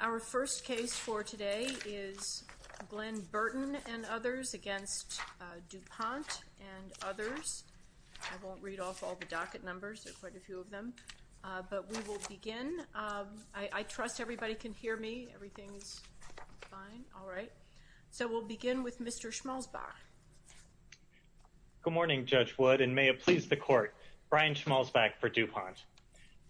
Our first case for today is Glenn Burton and others against DuPont and others. I won't read off all the docket numbers. There's quite a few of them. But we will begin. I trust everybody can hear me. Everything is fine. All right. So we'll begin with Mr. Schmalzbach. Good morning, Judge Wood, and may it please the Court. Brian Schmalzbach for DuPont.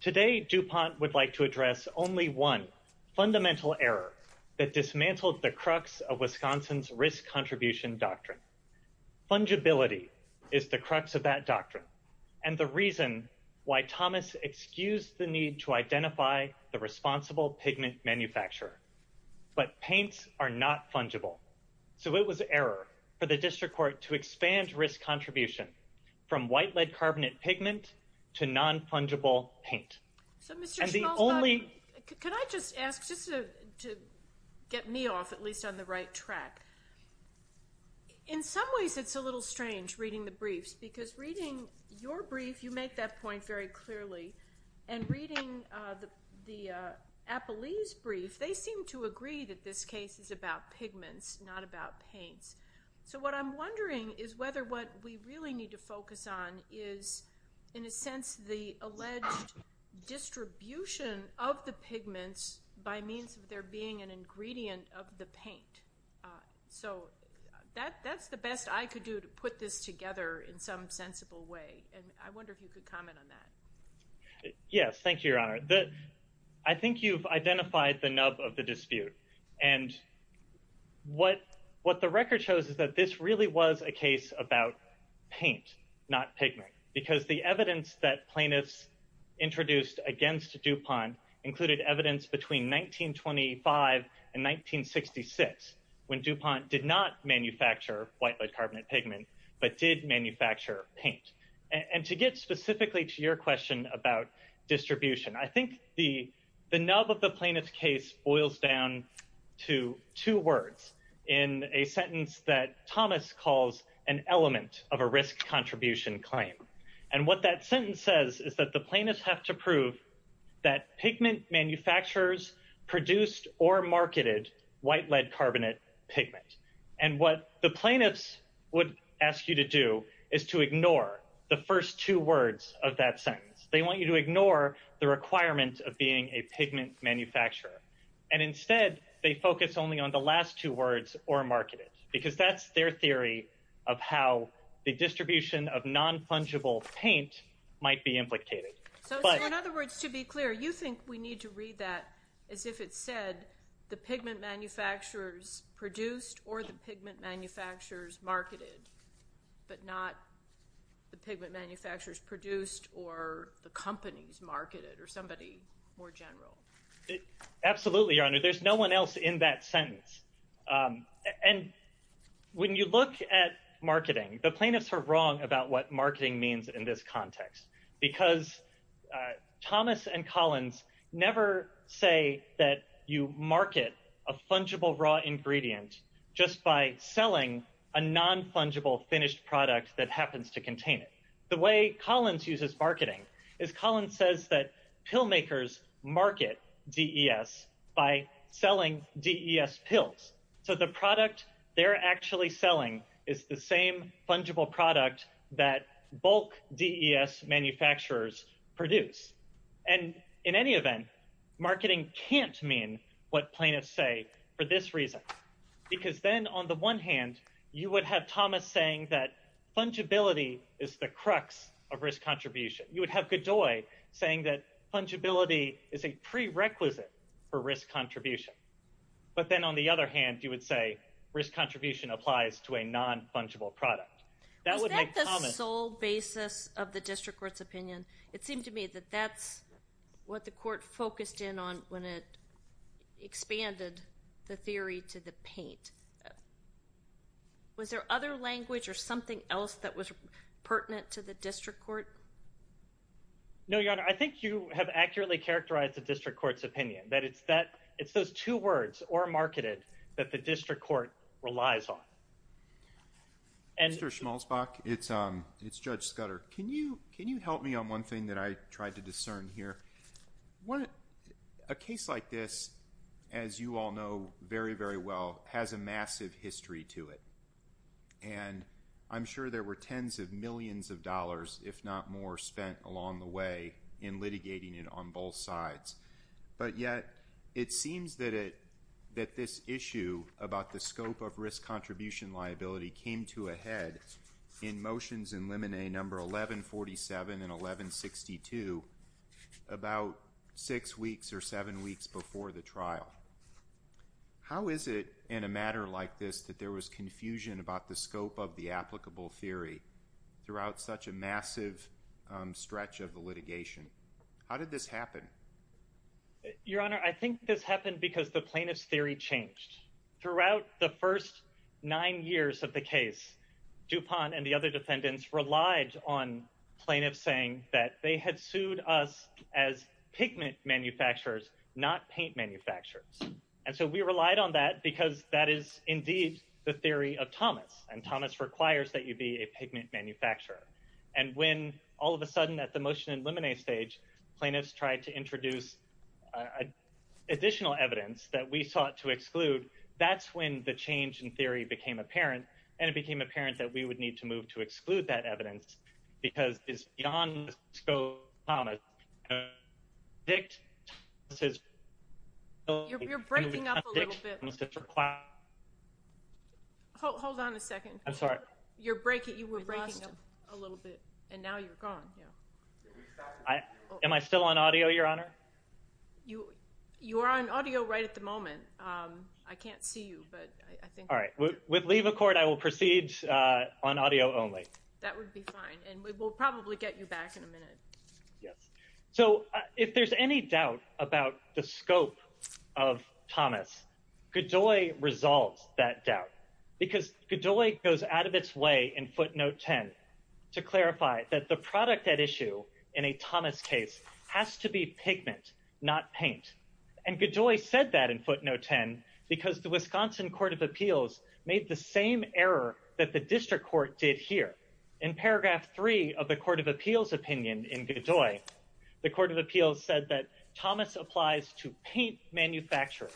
Today, DuPont would like to address only one fundamental error that dismantled the crux of Wisconsin's risk contribution doctrine. Fungibility is the crux of that doctrine and the reason why Thomas excused the need to identify the responsible pigment manufacturer. But paints are not fungible. So it was an error for the District Court to expand risk contribution from white lead carbonate pigment to non-fungible paint. Mr. Schmalzbach, could I just ask, just to get me off at least on the right track. In some ways, it's a little strange reading the briefs because reading your brief, you make that point very clearly. And reading the Appelese brief, they seem to agree that this case is about pigments, not about paint. So what I'm wondering is whether what we really need to focus on is, in a sense, the alleged distribution of the pigments by means of there being an ingredient of the paint. So that's the best I could do to put this together in some sensible way. And I wonder if you could comment on that. Yes, thank you, Your Honor. I think you've identified the nub of the dispute. And what the record shows is that this really was a case about paint, not pigment. Because the evidence that plaintiffs introduced against DuPont included evidence between 1925 and 1966, when DuPont did not manufacture white lead carbonate pigment, but did manufacture paint. And to get specifically to your question about distribution, I think the nub of the plaintiff's case boils down to two words in a sentence that Thomas calls an element of a risk contribution claim. And what that sentence says is that the plaintiffs have to prove that pigment manufacturers produced or marketed white lead carbonate pigment. And what the plaintiffs would ask you to do is to ignore the first two words of that sentence. They want you to ignore the requirements of being a pigment manufacturer. And instead, they focus only on the last two words, or marketed. Because that's their theory of how the distribution of non-plungible paint might be implicated. In other words, to be clear, you think we need to read that as if it said the pigment manufacturers produced or the pigment manufacturers marketed, but not the pigment manufacturers produced or the companies marketed or somebody more general. Absolutely, Your Honor. There's no one else in that sentence. And when you look at marketing, the plaintiffs are wrong about what marketing means in this context. Because Thomas and Collins never say that you market a plungible raw ingredient just by selling a non-plungible finished product that happens to contain it. The way Collins uses marketing is Collins says that pill makers market DES by selling DES pills. So the product they're actually selling is the same plungible product that bulk DES manufacturers produce. And in any event, marketing can't mean what plaintiffs say for this reason. Because then on the one hand, you would have Thomas saying that plungibility is the crux of risk contribution. You would have Godoy saying that plungibility is a prerequisite for risk contribution. But then on the other hand, you would say risk contribution applies to a non-plungible product. That's the sole basis of the district court's opinion. It seems to me that that's what the court focused in on when it expanded the theory to the paint. Was there other language or something else that was pertinent to the district court? No, Your Honor. I think you have accurately characterized the district court's opinion. That it's those two words, or marketing, that the district court relies on. Mr. Schmalzbach, it's Judge Scudder. Can you help me on one thing that I tried to discern here? A case like this, as you all know very, very well, has a massive history to it. And I'm sure there were tens of millions of dollars, if not more, spent along the way in litigating it on both sides. But yet, it seems that this issue about the scope of risk contribution liability came to a head in motions in limine number 1147 and 1162 about six weeks or seven weeks before the trial. How is it in a matter like this that there was confusion about the scope of the applicable theory throughout such a massive stretch of the litigation? How did this happen? Your Honor, I think this happened because the plaintiff's theory changed. Throughout the first nine years of the case, DuPont and the other defendants relied on plaintiffs saying that they had sued us as pigment manufacturers, not paint manufacturers. And so we relied on that because that is indeed the theory of Thomas. And Thomas requires that you be a pigment manufacturer. And when, all of a sudden, at the motion in limine stage, plaintiffs tried to introduce additional evidence that we sought to exclude, that's when the change in theory became apparent, and it became apparent that we would need to move to exclude that evidence because it's beyond the scope of Thomas. You're breaking up a little bit. Hold on a second. I'm sorry. You were breaking up a little bit, and now you're gone. Am I still on audio, Your Honor? You are on audio right at the moment. I can't see you. All right. With leave of court, I will proceed on audio only. That would be fine. And we'll probably get you back in a minute. So if there's any doubt about the scope of Thomas, Godoy resolved that doubt because Godoy goes out of its way in footnote 10 to clarify that the product at issue in a Thomas case has to be pigment, not paint. And Godoy said that in footnote 10 because the Wisconsin Court of Appeals made the same error that the district court did here. In paragraph 3 of the Court of Appeals opinion in Godoy, the Court of Appeals said that Thomas applies to paint manufacturers.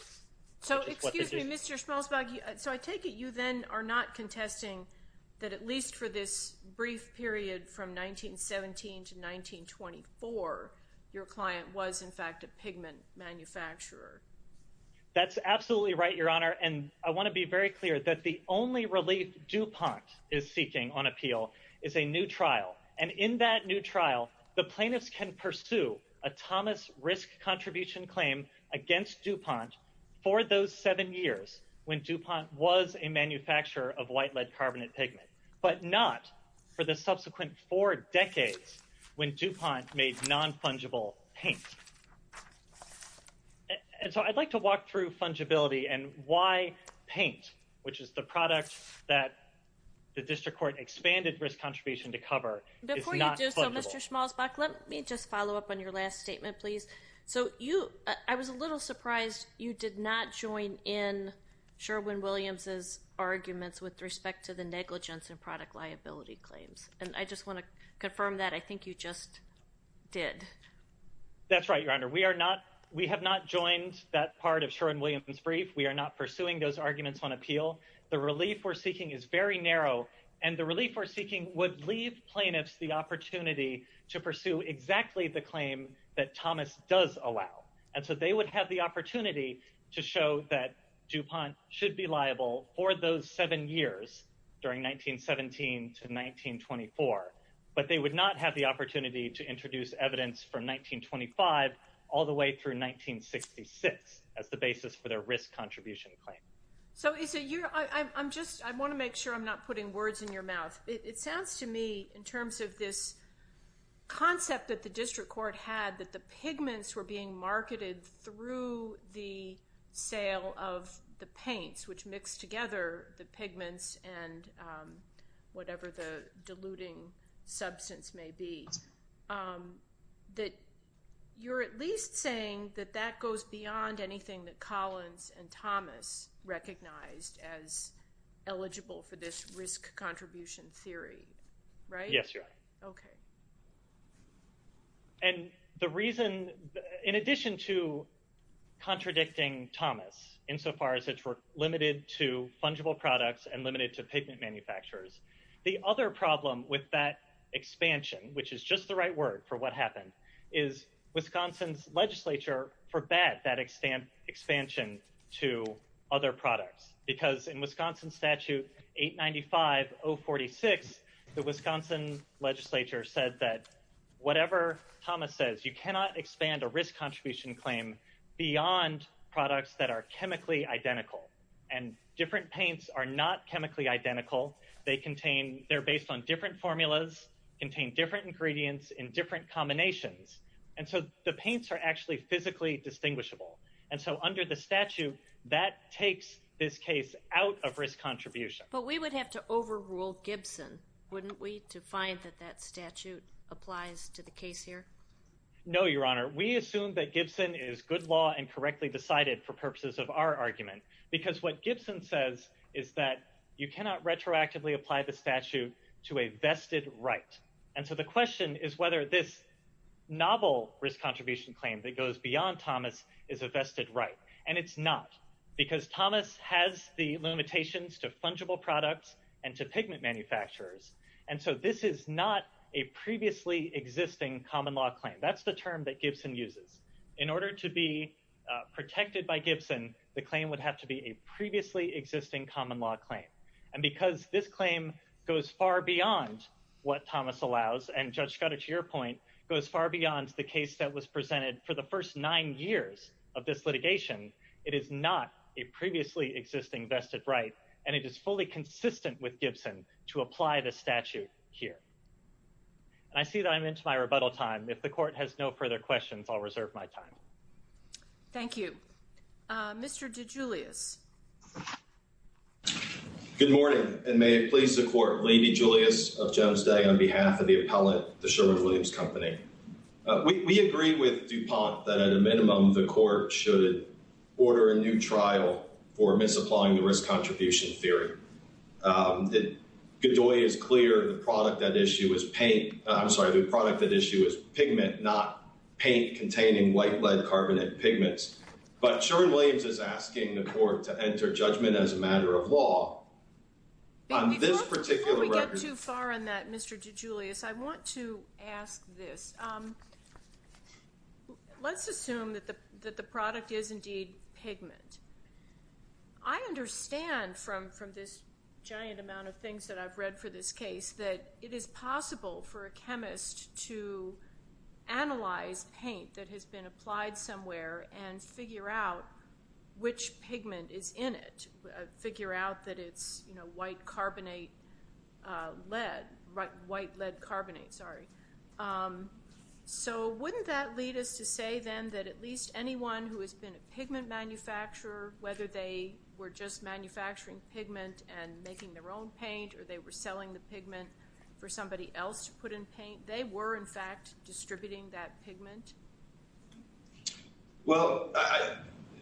So, excuse me, Mr. Schmalzberg, so I take it you then are not contesting that at least for this brief period from 1917 to 1924, your client was, in fact, a pigment manufacturer. That's absolutely right, Your Honor. And I want to be very clear that the only relief DuPont is seeking on appeal is a new trial. And in that new trial, the plaintiffs can pursue a Thomas risk contribution claim against DuPont for those seven years when DuPont was a manufacturer of white lead carbon and pigment, but not for the subsequent four decades when DuPont made non-fungible paint. And so I'd like to walk through fungibility and why paint, which is the product that the district court expanded risk contribution to cover, is not fungible. Before you do so, Mr. Schmalzberg, let me just follow up on your last statement, please. So you – I was a little surprised you did not join in Sherwin-Williams' arguments with respect to the negligence in product liability claims. And I just want to confirm that. I think you just did. That's right, Your Honor. We are not – we have not joined that part of Sherwin-Williams' brief. We are not pursuing those arguments on appeal. The relief we're seeking is very narrow, and the relief we're seeking would leave plaintiffs the opportunity to pursue exactly the claim that Thomas does allow. And so they would have the opportunity to show that DuPont should be liable for those seven years during 1917 to 1924, but they would not have the opportunity to introduce evidence from 1925 all the way through 1966 as the basis for their risk contribution claim. So is it – I'm just – I want to make sure I'm not putting words in your mouth. It sounds to me in terms of this concept that the district court had that the pigments were being marketed through the sale of the paints, which mixed together the pigments and whatever the diluting substance may be, that you're at least saying that that goes beyond anything that Collins and Thomas recognized as eligible for this risk contribution theory, right? Yes, Your Honor. Okay. And the reason – in addition to contradicting Thomas insofar as it's limited to fungible products and limited to pigment manufacturers, the other problem with that expansion, which is just the right word for what happened, is Wisconsin's legislature forbade that expansion to other products because in Wisconsin Statute 895.046, the Wisconsin legislature said that whatever Thomas says, you cannot expand a risk contribution claim beyond products that are chemically identical. And different paints are not chemically identical. They contain – they're based on different formulas, contain different ingredients in different combinations. And so the paints are actually physically distinguishable. And so under the statute, that takes this case out of risk contribution. But we would have to overrule Gibson, wouldn't we, to find that that statute applies to the case here? No, Your Honor. We assume that Gibson is good law and correctly decided for purposes of our argument. Because what Gibson says is that you cannot retroactively apply the statute to a vested right. And so the question is whether this novel risk contribution claim that goes beyond Thomas is a vested right. And it's not because Thomas has the limitations to fungible products and to pigment manufacturers. And so this is not a previously existing common law claim. That's the term that Gibson uses. In order to be protected by Gibson, the claim would have to be a previously existing common law claim. And because this claim goes far beyond what Thomas allows and, Judge Schrader, to your point, goes far beyond the case that was presented for the first nine years of this litigation, it is not a previously existing vested right. And it is fully consistent with Gibson to apply the statute here. I see that I'm into my rebuttal time. If the Court has no further questions, I'll reserve my time. Thank you. Mr. DeGiulio. Good morning, and may it please the Court, Lady Julius of Genesee, on behalf of the appellate, the Sherwood Williams Company. We agree with DuPont that at a minimum the Court should order a new trial for misapplying the risk contribution theory. Godoy is clear the product at issue is pigment, not paint containing white lead carbon and pigments. But Sherwood Williams is asking the Court to enter judgment as a matter of law on this particular record. Before we get too far on that, Mr. DeGiulio, I want to ask this. Let's assume that the product is indeed pigment. I understand from this giant amount of things that I've read for this case that it is possible for a chemist to analyze paint that has been applied somewhere and figure out which pigment is in it, figure out that it's white lead carbonate. So wouldn't that lead us to say then that at least anyone who has been a pigment manufacturer, whether they were just manufacturing pigment and making their own paint, or they were selling the pigment for somebody else to put in paint, they were, in fact, distributing that pigment? Well,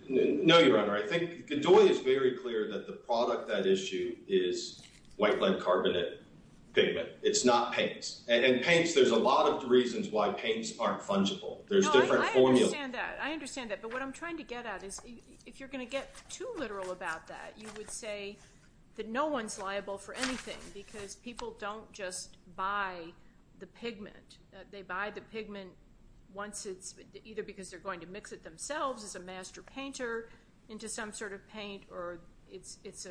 no, Your Honor. I think Godoy is very clear that the product at issue is white lead carbonate pigment. It's not paint. And in paint, there's a lot of reasons why paints aren't fungible. There's different formulas. I understand that. I understand that. But what I'm trying to get at is if you're going to get too literal about that, you would say that no one's liable for anything because people don't just buy the pigment. They buy the pigment either because they're going to mix it themselves as a master painter into some sort of paint or it's a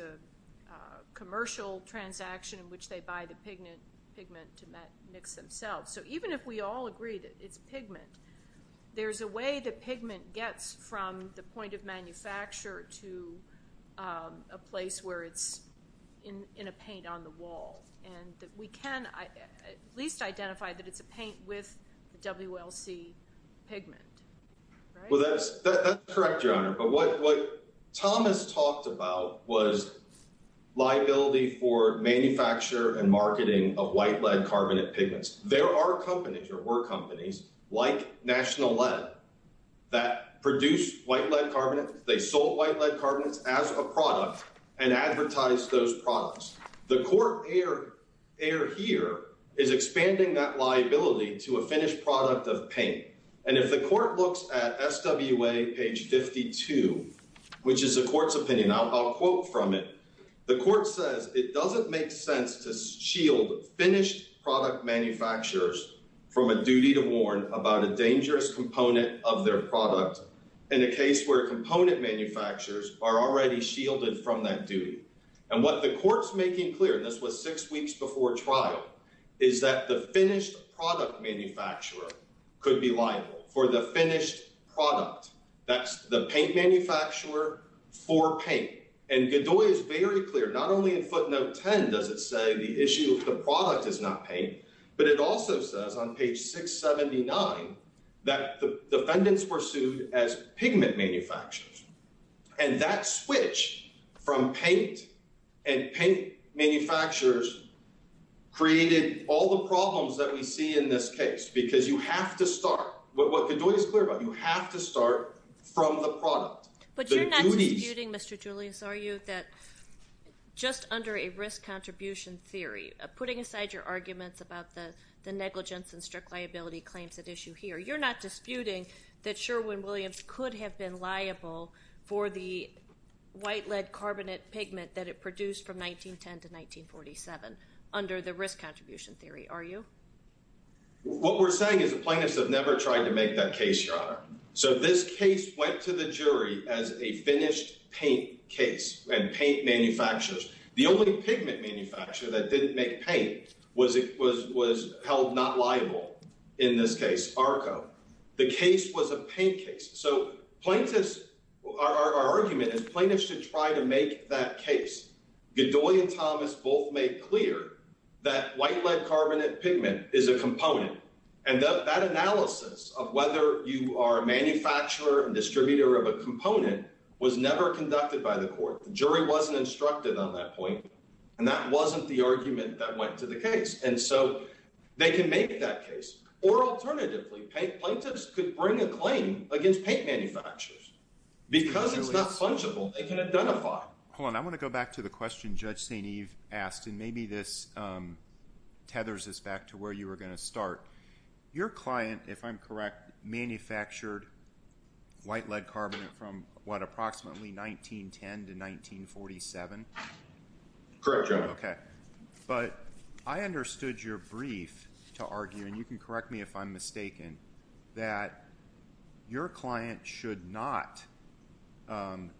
commercial transaction in which they buy the pigment to mix themselves. So even if we all agree that it's pigment, there's a way that pigment gets from the point of manufacture to a place where it's in a paint on the wall. And we can at least identify that it's a paint with the WLC pigment. Well, that's correct, Your Honor. But what Thomas talked about was liability for manufacture and marketing of white lead carbonate pigments. There are companies or were companies like National Lead that produced white lead carbonate. They sold white lead carbonate as a product and advertised those products. The court error here is expanding that liability to a finished product of paint. And if the court looks at SWA page 52, which is the court's opinion, I'll quote from it. The court says it doesn't make sense to shield finished product manufacturers from a duty to warn about a dangerous component of their product in a case where component manufacturers are already shielded from that duty. And what the court's making clear, this was six weeks before trial, is that the finished product manufacturer could be liable for the finished product. That's the paint manufacturer for paint. And Godoy is very clear, not only in footnote 10 does it say the issue of the product is not paint, but it also says on page 679 that the defendants were sued as pigment manufacturers. And that switch from paint and paint manufacturers created all the problems that we see in this case because you have to start, what Godoy is clear about, you have to start from the product. But you're not disputing, Mr. Julius, are you, that just under a risk contribution theory, putting aside your arguments about the negligence and strict liability claims at issue here, you're not disputing that Sherwin-Williams could have been liable for the white lead carbonate pigment that it produced from 1910 to 1947 under the risk contribution theory, are you? What we're saying is the plaintiffs have never tried to make that case, Your Honor. So this case went to the jury as a finished paint case and paint manufacturers. The only pigment manufacturer that didn't make paint was held not liable in this case, Arco. The case was a paint case. So plaintiffs, our argument is plaintiffs should try to make that case. Godoy and Thomas both made clear that white lead carbonate pigment is a component. And that analysis of whether you are a manufacturer and distributor of a component was never conducted by the court. The jury wasn't instructed on that point, and that wasn't the argument that went to the case. And so they can make that case. Or alternatively, paint plaintiffs could bring a claim against paint manufacturers because it's not plungible, they can identify it. Hold on. I want to go back to the question Judge St. Eve asked, and maybe this tethers us back to where you were going to start. Your client, if I'm correct, manufactured white lead carbonate from, what, approximately 1910 to 1947? Correct, Your Honor. Okay. But I understood your brief to argue, and you can correct me if I'm mistaken, that your client should not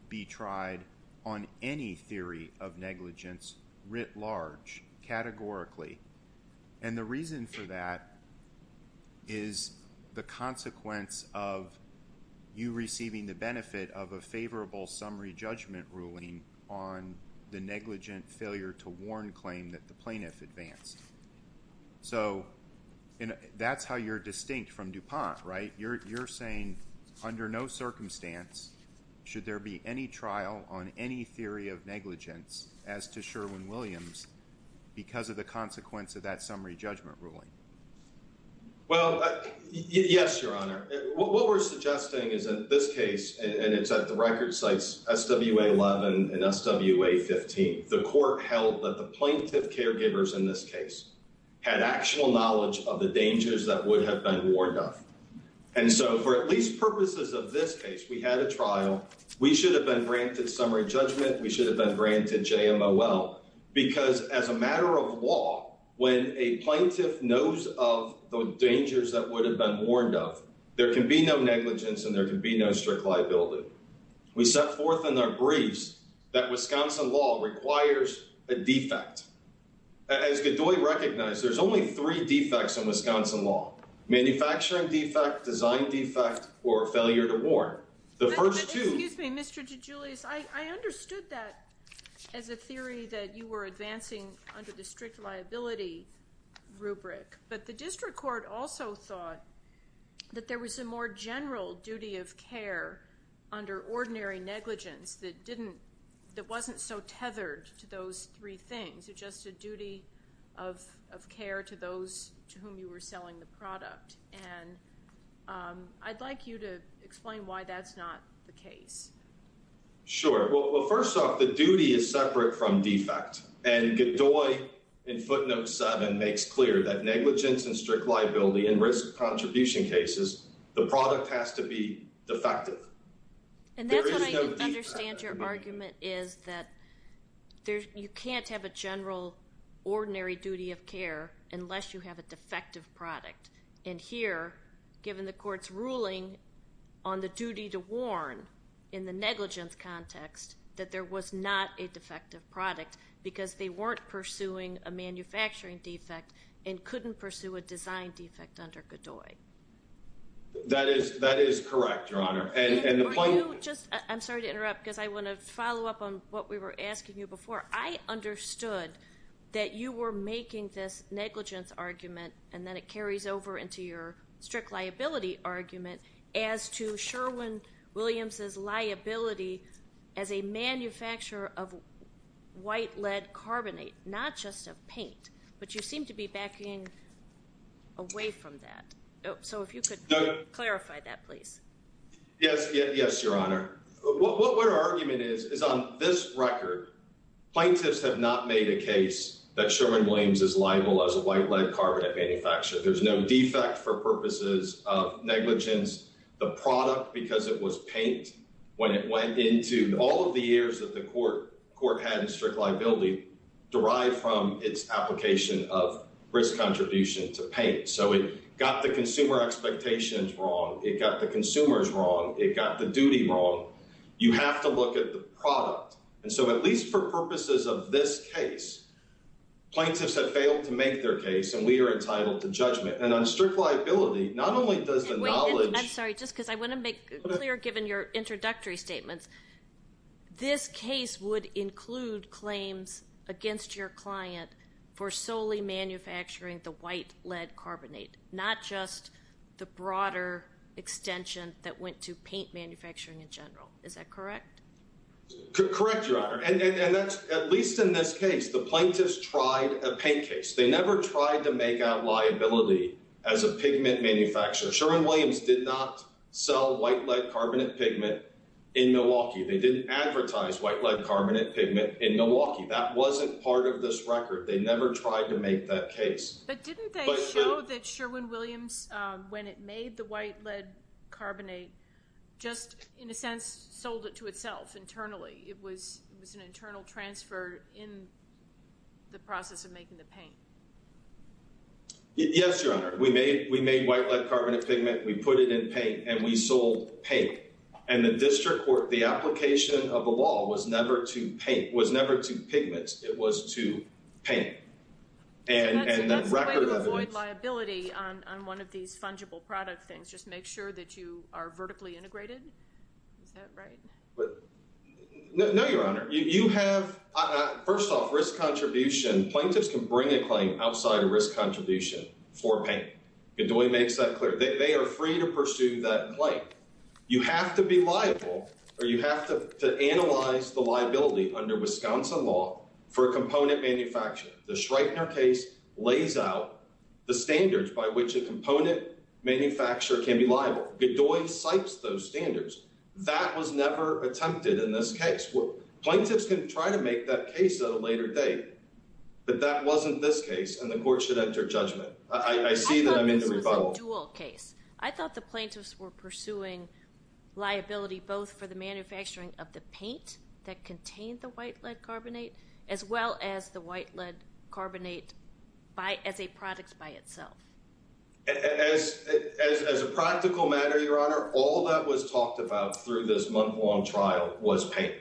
be tried on any theory of negligence writ large, categorically. And the reason for that is the consequence of you receiving the benefit of a favorable summary judgment ruling on the negligent failure to warn claim that the plaintiff advanced. So that's how you're distinct from DuPont, right? You're saying under no circumstance should there be any trial on any theory of negligence as to Sherwin-Williams because of the consequence of that summary judgment ruling? Well, yes, Your Honor. What we're suggesting is that this case, and it's at the record sites SWA-11 and SWA-15, the court held that the plaintiff caregivers in this case had actual knowledge of the dangers that would have been warned of. And so for at least purposes of this case, we had a trial. We should have been granted summary judgment. We should have been granted JMOL. Because as a matter of law, when a plaintiff knows of the dangers that would have been warned of, there can be no negligence and there can be no strict liability. We set forth in our briefs that Wisconsin law requires a defect. As we recognize, there's only three defects in Wisconsin law, manufacturing defect, design defect, or failure to warn. Excuse me, Mr. DeGiulis. I understood that as a theory that you were advancing under the strict liability rubric, but the district court also thought that there was a more general duty of care under ordinary negligence that wasn't so tethered to those three things. It's just a duty of care to those to whom you were selling the product. And I'd like you to explain why that's not the case. Sure. Well, first off, the duty is separate from defect. And Godoy in footnote 7 makes clear that negligence and strict liability in risk contribution cases, the product has to be defective. And that's what I didn't understand your argument is that you can't have a general ordinary duty of care unless you have a defective product. And here, given the court's ruling on the duty to warn in the negligence context, that there was not a defective product because they weren't pursuing a manufacturing defect and couldn't pursue a design defect under Godoy. That is correct, Your Honor. I'm sorry to interrupt because I want to follow up on what we were asking you before. I understood that you were making this negligence argument, and then it carries over into your strict liability argument, as to Sherwin-Williams' liability as a manufacturer of white lead carbonate, not just of paint. But you seem to be backing away from that. So if you could clarify that, please. Yes, Your Honor. What our argument is, is on this record, plaintiffs have not made a case that Sherwin-Williams is liable as a white lead carbonate manufacturer. There's no defect for purposes of negligence. The product, because it was paint when it went into all of the years that the court had in strict liability, derived from its application of risk contribution to paint. So it got the consumer expectations wrong. It got the consumers wrong. It got the duty wrong. You have to look at the product. And so at least for purposes of this case, plaintiffs have failed to make their case, and we are entitled to judgment. And on strict liability, not only does the knowledge – I'm sorry, just because I want to make it clear, given your introductory statements, this case would include claims against your client for solely manufacturing the white lead carbonate, not just the broader extension that went to paint manufacturing in general. Is that correct? Correct, Your Honor. And at least in this case, the plaintiffs tried a paint case. They never tried to make out liability as a pigment manufacturer. Sherwin-Williams did not sell white lead carbonate pigment in Milwaukee. They didn't advertise white lead carbonate pigment in Milwaukee. That wasn't part of this record. They never tried to make that case. But didn't they show that Sherwin-Williams, when it made the white lead carbonate, just in a sense sold it to itself internally? It was an internal transfer in the process of making the paint. Yes, Your Honor. We made white lead carbonate pigment. We put it in paint, and we sold paint. And the district court, the application of the law was never to paint, was never to pigment. It was to paint. That's a way to avoid liability on one of these fungible product things, just make sure that you are vertically integrated. Is that right? No, Your Honor. You have, first off, risk contribution. Plaintiffs can bring a claim outside of risk contribution for paint. It only makes that clear. They are free to pursue that claim. You have to be liable, or you have to analyze the liability under Wisconsin law for a component manufacturer. The Schreiber case lays out the standards by which a component manufacturer can be liable. Bedoy cites those standards. That was never attempted in this case. Plaintiffs can try to make that case at a later date, but that wasn't this case, and the court should enter judgment. I see that I'm in the rebuttal. I thought the plaintiffs were pursuing liability both for the manufacturing of the paint that contained the white lead carbonate as well as the white lead carbonate as a product by itself. As a practical matter, Your Honor, all that was talked about through this month-long trial was paint.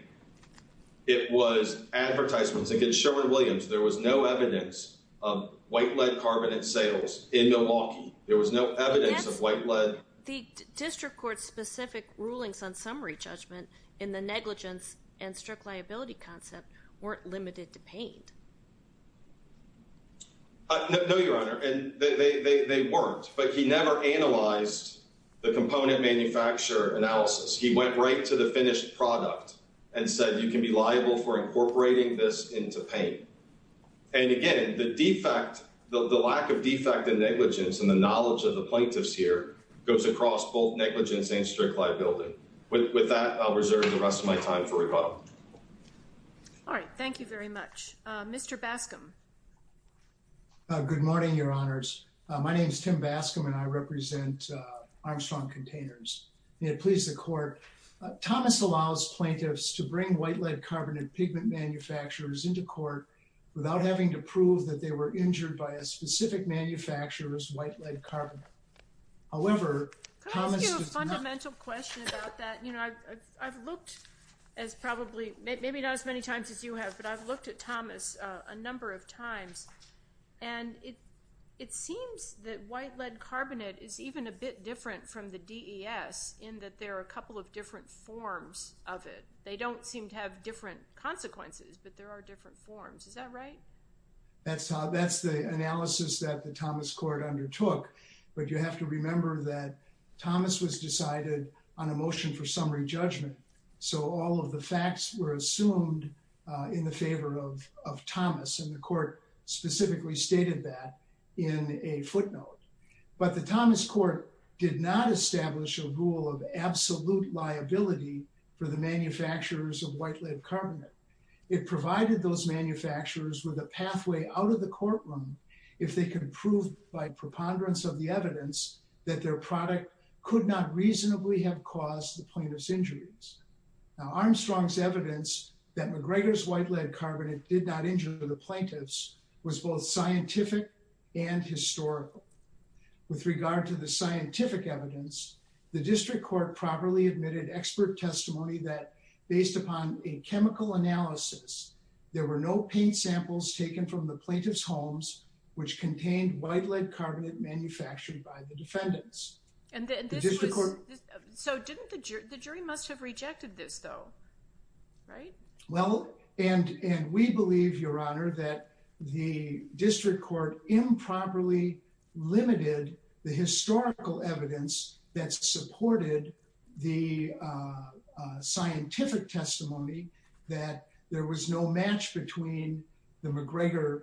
It was advertisements. I think it was Sherwin-Williams. There was no evidence of white lead carbonate sales in Milwaukee. There was no evidence of white lead. The district court's specific rulings on summary judgment in the negligence and strict liability concept weren't limited to paint. No, Your Honor, they weren't. But he never analyzed the component manufacturer analysis. He went right to the finished product and said, you can be liable for incorporating this into paint. And, again, the defect, the lack of defect in negligence and the knowledge of the plaintiffs here goes across both negligence and strict liability. With that, I'll reserve the rest of my time for rebuttal. All right. Thank you very much. Mr. Bascom. Good morning, Your Honors. My name is Tim Bascom, and I represent Armstrong Containers. May it please the Court, Thomas allows plaintiffs to bring white lead carbonate treatment manufacturers into court without having to prove that they were injured by a specific manufacturer's white lead carbonate. However, Thomas is not – Can I ask you a fundamental question about that? You know, I've looked as probably – maybe not as many times as you have, but I've looked at Thomas a number of times, and it seems that white lead carbonate is even a bit different from the DES in that there are a couple of different forms of it. They don't seem to have different consequences, but there are different forms. Is that right? That's the analysis that the Thomas Court undertook. But you have to remember that Thomas was decided on a motion for summary judgment, so all of the facts were assumed in the favor of Thomas, and the Court specifically stated that in a footnote. But the Thomas Court did not establish a rule of absolute liability for the manufacturers of white lead carbonate. It provided those manufacturers with a pathway out of the courtroom if they could prove by preponderance of the evidence that their product could not reasonably have caused the plaintiff's injuries. Now, Armstrong's evidence that McGregor's white lead carbonate did not injure the plaintiffs was both scientific and historical. With regard to the scientific evidence, the District Court properly admitted expert testimony that, based upon a chemical analysis, there were no paint samples taken from the plaintiff's homes which contained white lead carbonate manufactured by the defendants. So didn't the jury must have rejected this, though, right? Well, and we believe, Your Honor, that the District Court improperly limited the historical evidence that supported the scientific testimony that there was no match between the McGregor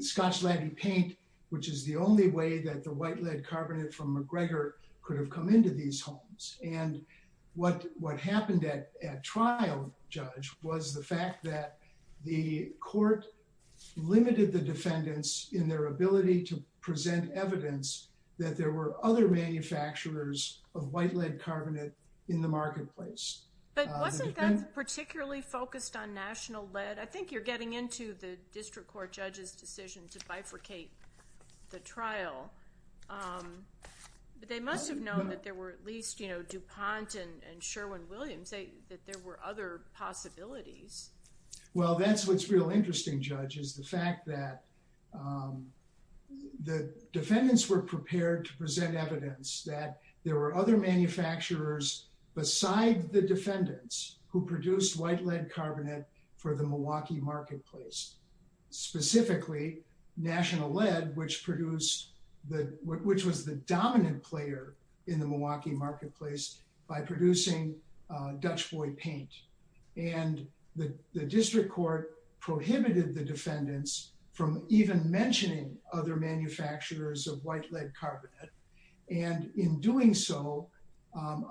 Scotch lead and paint, which is the only way that the white lead carbonate from McGregor could have come into these homes. And what happened at trial, Judge, was the fact that the Court limited the defendants in their ability to identify the manufacturers of white lead carbonate in the marketplace. But wasn't that particularly focused on national lead? I think you're getting into the District Court judge's decision to bifurcate the trial. But they must have known that there were at least, you know, DuPont and Sherwin-Williams, that there were other possibilities. Well, that's what's real interesting, Judge, is the fact that the defendants were prepared to present evidence that there were other manufacturers beside the defendants who produced white lead carbonate for the Milwaukee marketplace, specifically national lead, which produced the, which was the dominant player in the Milwaukee marketplace by producing Dutch boy paint. And the District Court prohibited the defendants from even mentioning other manufacturers of white lead carbonate. And in doing so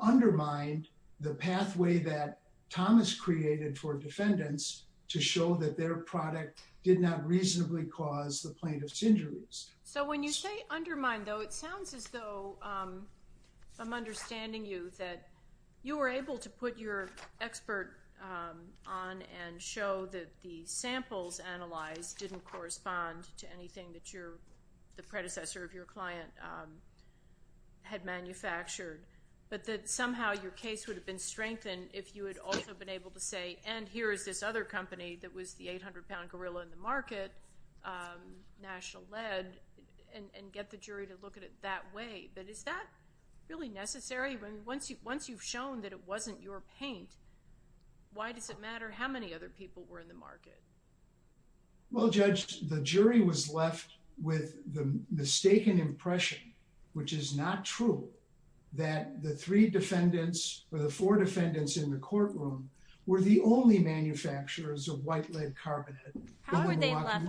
undermined the pathway that Thomas created for defendants to show that their product did not reasonably cause the plaintiff's injuries. So when you say undermine, though, it sounds as though I'm understanding you that you were able to put your expert on and show that the samples analyzed didn't correspond to anything that the predecessor of your client had manufactured, but that somehow your case would have been strengthened if you had also been able to say, and here is this other company that was the 800-pound gorilla in the market, national lead, and get the jury to look at it that way. But is that really necessary? Once you've shown that it wasn't your paint, why does it matter how many other people were in the market? Well, Judge, the jury was left with the mistaken impression, which is not true, that the three defendants or the four defendants in the courtroom were the only manufacturers of white lead carbonate. How were they left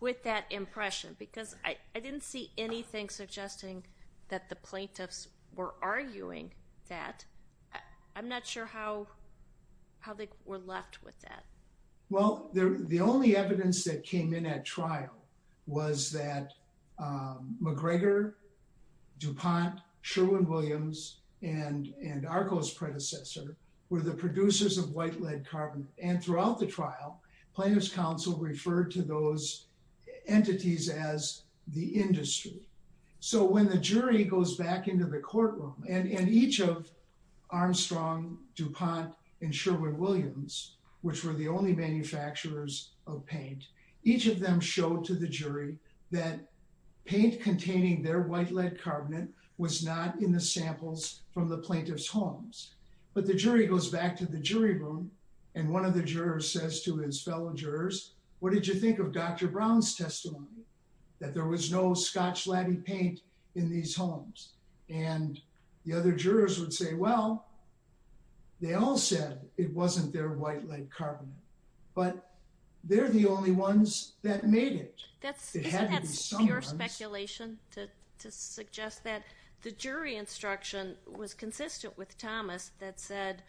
with that impression? I didn't see anything suggesting that the plaintiffs were arguing that. I'm not sure how they were left with that. Well, the only evidence that came in at trial was that McGregor, DuPont, Sherwin-Williams, and Arco's predecessor were the producers of white lead carbonate. And throughout the trial, plaintiff's counsel referred to those entities as the industry. So when the jury goes back into the courtroom, and each of Armstrong, DuPont, and Sherwin-Williams, which were the only manufacturers of paint, each of them showed to the jury that paint containing their white lead carbonate was not in the samples from the plaintiff's homes. But the jury goes back to the jury room, and one of the jurors says to his fellow jurors, what did you think of Dr. Brown's testimony? That there was no scotch-laden paint in these homes. And the other jurors would say, well, they all said it wasn't their white lead carbonate, but they're the only ones that made it. That's pure speculation to suggest that the jury instruction was did you have to prove that you were the only one in the case that said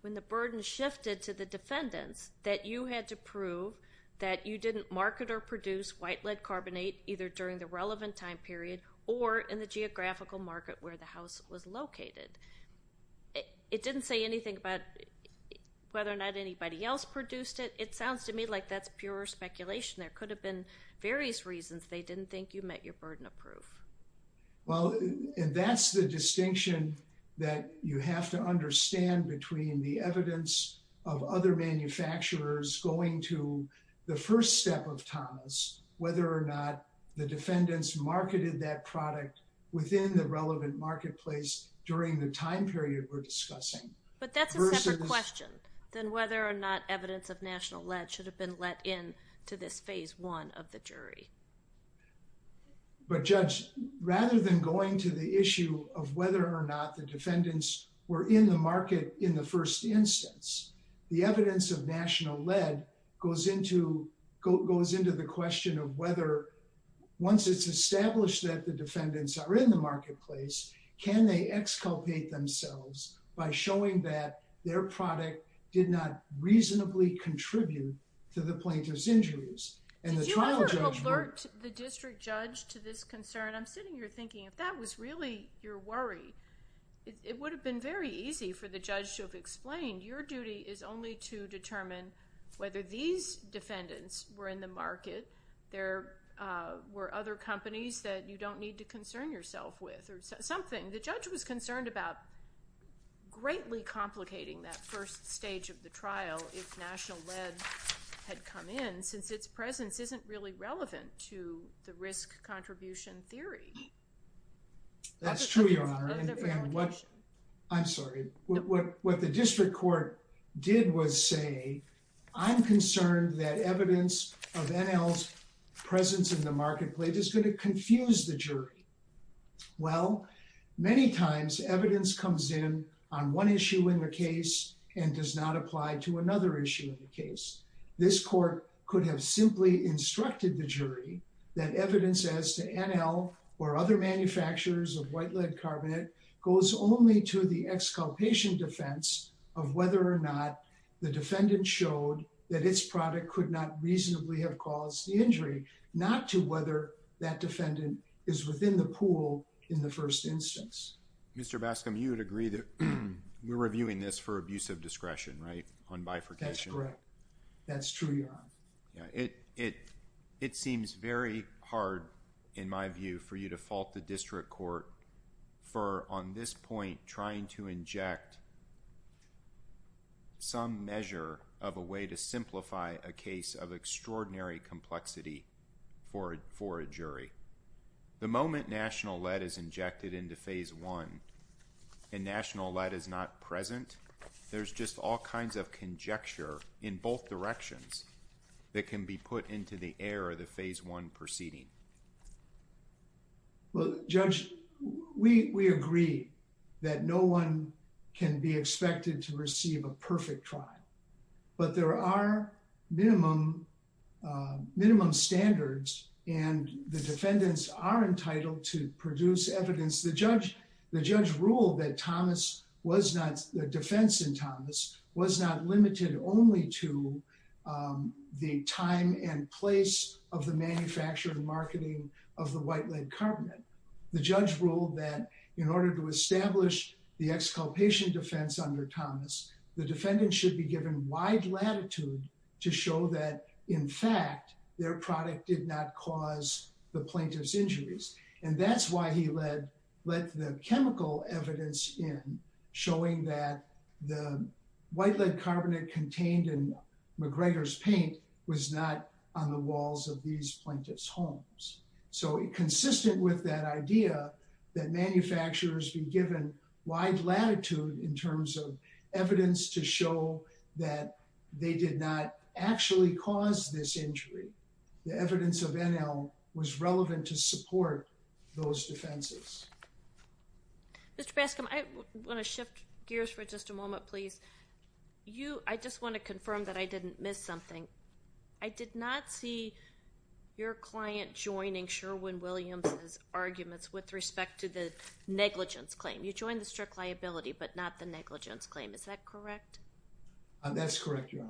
when the burden shifted to the defendant, that you had to prove that you didn't market or produce white lead carbonate, either during the relevant time period, or in the geographical market where the house was located? It didn't say anything about whether or not anybody else produced it. It sounds to me like that's pure speculation. There could have been various reasons. They didn't think you met your burden of proof. Well, and that's the distinction that you have to understand between the evidence of other manufacturers going to the first step of Thomas, whether or not the defendants marketed that product within the relevant marketplace during the time period we're discussing. But that's a different question than whether or not evidence of national lead should have been let in to this phase one of the jury. But just rather than going to the issue of whether or not the defendants were in the market in the first instance, the evidence of national lead goes into, goes into the question of whether once it's established that the defendants are in the marketplace, can they exculpate themselves by showing that their product did not reasonably contribute to the plaintiff's injuries and the trial judge. The district judge to this concern, I'm sitting here thinking, if that was really your worry, it would have been very easy for the judge to have explained your duty is only to determine whether these defendants were in the market. There were other companies that you don't need to concern yourself with or something. The judge was concerned about greatly complicating that first stage of the trial. If national lead had come in since its presence isn't really relevant to the risk contribution theory. That's true. I'm sorry. What the district court did was say, I'm concerned that evidence of NL's presence in the marketplace is going to confuse the jury. Well, many times evidence comes in on one issue in the case and does not apply to another issue in the case. This court could have simply instructed the jury that evidence as to NL or other manufacturers of white lead carbonate goes only to the exculpation defense of whether or not the defendant showed that his product could not reasonably have caused the injury, not to whether that defendant is within the pool in the first instance. Mr. That's correct. That's true. Yeah. It, it, it seems very hard in my view for you to fault the district court for on this point, trying to inject some measure of a way to simplify a case of extraordinary complexity for, for a jury. The moment national lead is injected into phase one and national lead is not present. There's just all kinds of conjecture in both directions that can be put into the air of the phase one proceeding. Well, judge, we agree that no one can be expected to receive a perfect trial, but there are minimum minimum standards and the defendants are entitled to produce evidence. The judge, the judge ruled that Thomas was not, the defense in Thomas was not limited only to the time and place of the manufacturer and marketing of the white lead covenant. The judge ruled that in order to establish the exculpation defense under Thomas, the defendant should be given wide latitude to show that in fact their product did not cause the plaintiff's injuries. And that's why he led with the chemical evidence in showing that the white lead covenant contained in McGregor's paint was not on the walls of these plaintiff's homes. So it consistent with that idea that manufacturers be given wide latitude in terms of evidence to show that they did not actually cause this injury. The evidence of ML was relevant to support those defenses. I want to shift gears for just a moment, please. You, I just want to confirm that I didn't miss something. I did not see your client joining Sherwin Williams arguments with respect to the negligence claim. You joined the strict liability, but not the negligence claim. Is that correct? That's correct. Yeah.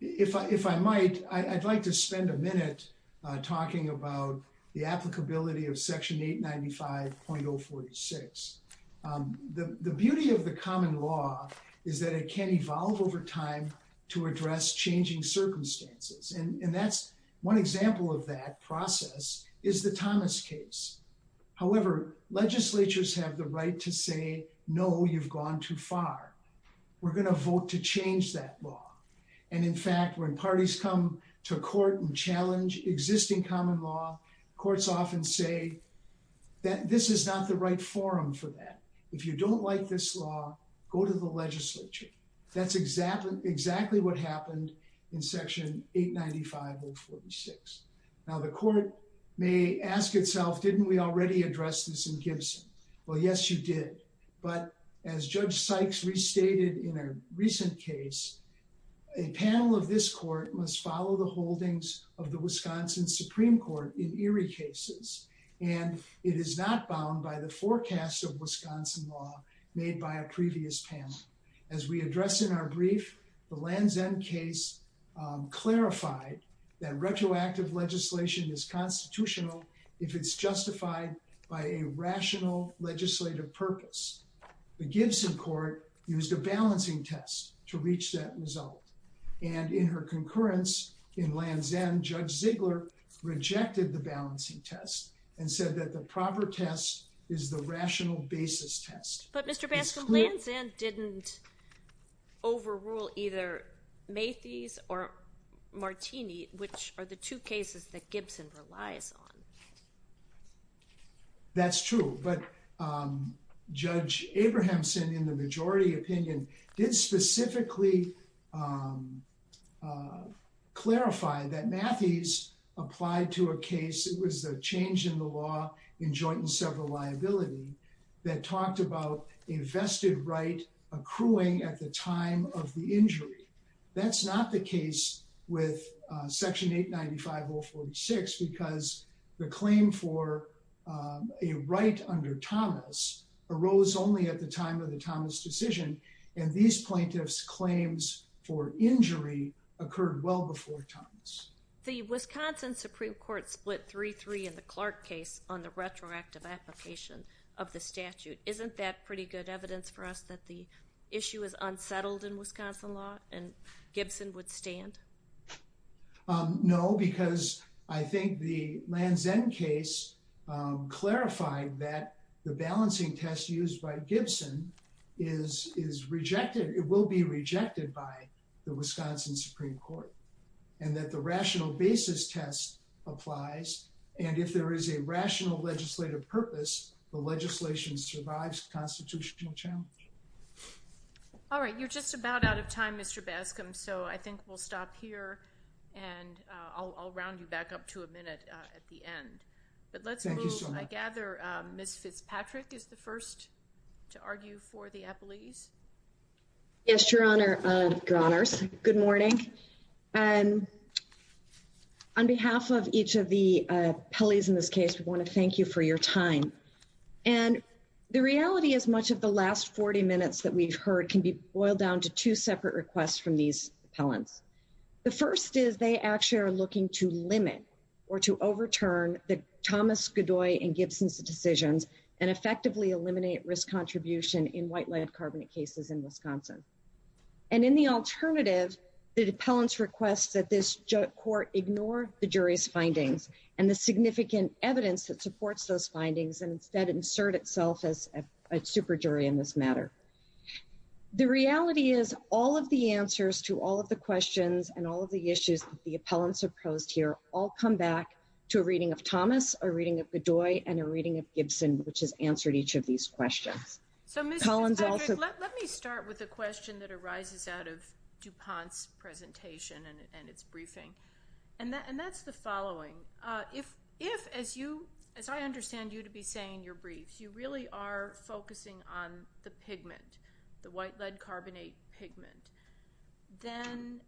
If I might, I'd like to spend a minute talking about the applicability of section eight 95.0 46. The beauty of the common law is that it can evolve over time to address changing circumstances. And that's one example of that process is the Thomas case. However, legislatures have the right to say, no, you've gone too far. We're going to vote to change that law. And in fact, when parties come to court and challenge existing common law, courts often say that this is not the right forum for that. If you don't like this law, go to the legislature. That's exactly what happened in section eight 95.0 46. Now the court may ask itself, didn't we already address this in Gibson? Well, yes, you did. But as judge Sykes restated in a recent case, a panel of this court must follow the holdings of the Wisconsin Supreme Court in Erie cases. And it is not bound by the forecast of Wisconsin law made by a previous panel. As we addressed in our brief, the Land's End case, um, clarified that retroactive legislation is constitutional if it's balanced. The Gibson court used a balancing test to reach that result. And in her concurrence in Land's End, judge Ziegler rejected the balancing test and said that the proper test is the rational basis test. But Mr. Baskin didn't overrule either Macy's or Martini, which are the two cases that Gibson relies on. That's true. But, um, judge Abrahamson in the majority opinion did specifically, um, uh, clarify that Macy's applied to a case. It was the change in the law in joint and several liability that talked about a vested right accruing at the time of the injury. That's not the case with, uh, section eight 95.0 46, because the claim for, um, a right under Thomas arose only at the time of the Thomas decision. And these plaintiffs claims for injury occurred well before Thomas. The Wisconsin Supreme court split three, three in the Clark case on the retroactive application of the statute. Isn't that pretty good evidence for us that the issue is unsettled in Wisconsin law and Gibson would stand? Um, no, because I think the land's end case, um, clarified that the balancing tests used by Gibson is, is rejected. It will be rejected by the Wisconsin Supreme court and that the rational basis test applies. And if there is a rational legislative purpose, the legislation survives constitutional challenge. All right. You're just about out of time, Mr. Baskin. So I think we'll stop here and I'll, I'll round you back up to a minute at the end, but let's move. I gather, um, this Fitzpatrick is the first to argue for the appellees. Yes, your honor, your honors. Good morning. Um, on behalf of each of the, uh, police in this case, I want to thank you for your time. And the reality is much of the last 40 minutes that we've heard can be boiled down to two separate requests from these appellants. The first is they actually are looking to limit or to overturn the Thomas Godoy and Gibson's decisions and effectively eliminate risk contribution in white land carbonate cases in Wisconsin. And in the alternative, the appellants requests that this court ignore the jury's findings and the significant evidence that supports those findings. And instead insert itself as a super jury in this matter. The reality is all of the answers to all of the questions and all of the issues, the appellants have posed here, all come back to a reading of Thomas or reading of the joy and a reading of Gibson, which has answered each of these questions. So let me start with a question that arises out of DuPont's presentation and it's briefing. And that, and that's the following. Uh, if, if, as you, as I understand you to be saying your brief, you really are focusing on the pigment, the white lead carbonate pigment, then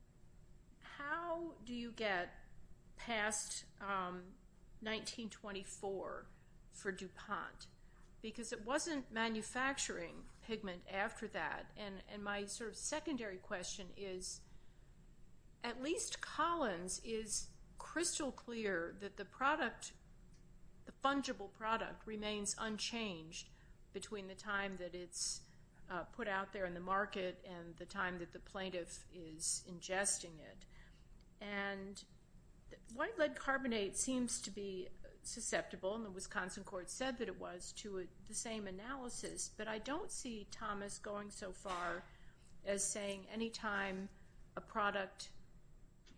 how do you get past, um, 1924 for DuPont because it wasn't manufacturing pigment after that. And my sort of secondary question is at least Collins is crystal clear that the time that it's put out there in the market and the time that the plaintiff is ingesting it and white lead carbonate seems to be susceptible and the Wisconsin court said that it was to the same analysis, but I don't see Thomas going so far as saying any time a product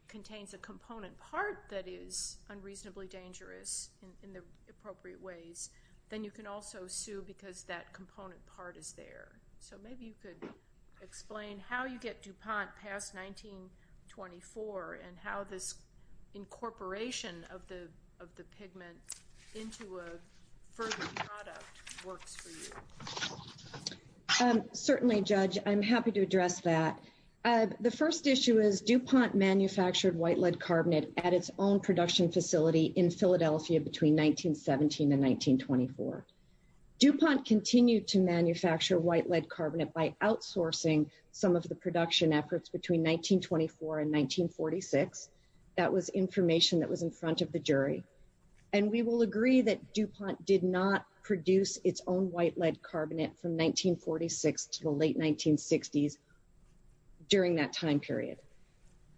contains a component part that is unreasonably dangerous in the appropriate ways, then you can also sue because that component part is there. So maybe you could explain how you get DuPont past 1924 and how this incorporation of the, of the pigment into a further product works for you. Um, certainly judge, I'm happy to address that. Uh, the first issue is DuPont manufactured white lead carbonate at its own in 1924 DuPont continued to manufacture white lead carbonate by outsourcing some of the production efforts between 1924 and 1946. That was information that was in front of the jury. And we will agree that DuPont did not produce its own white lead carbonate from 1946 to the late 1960s during that time period.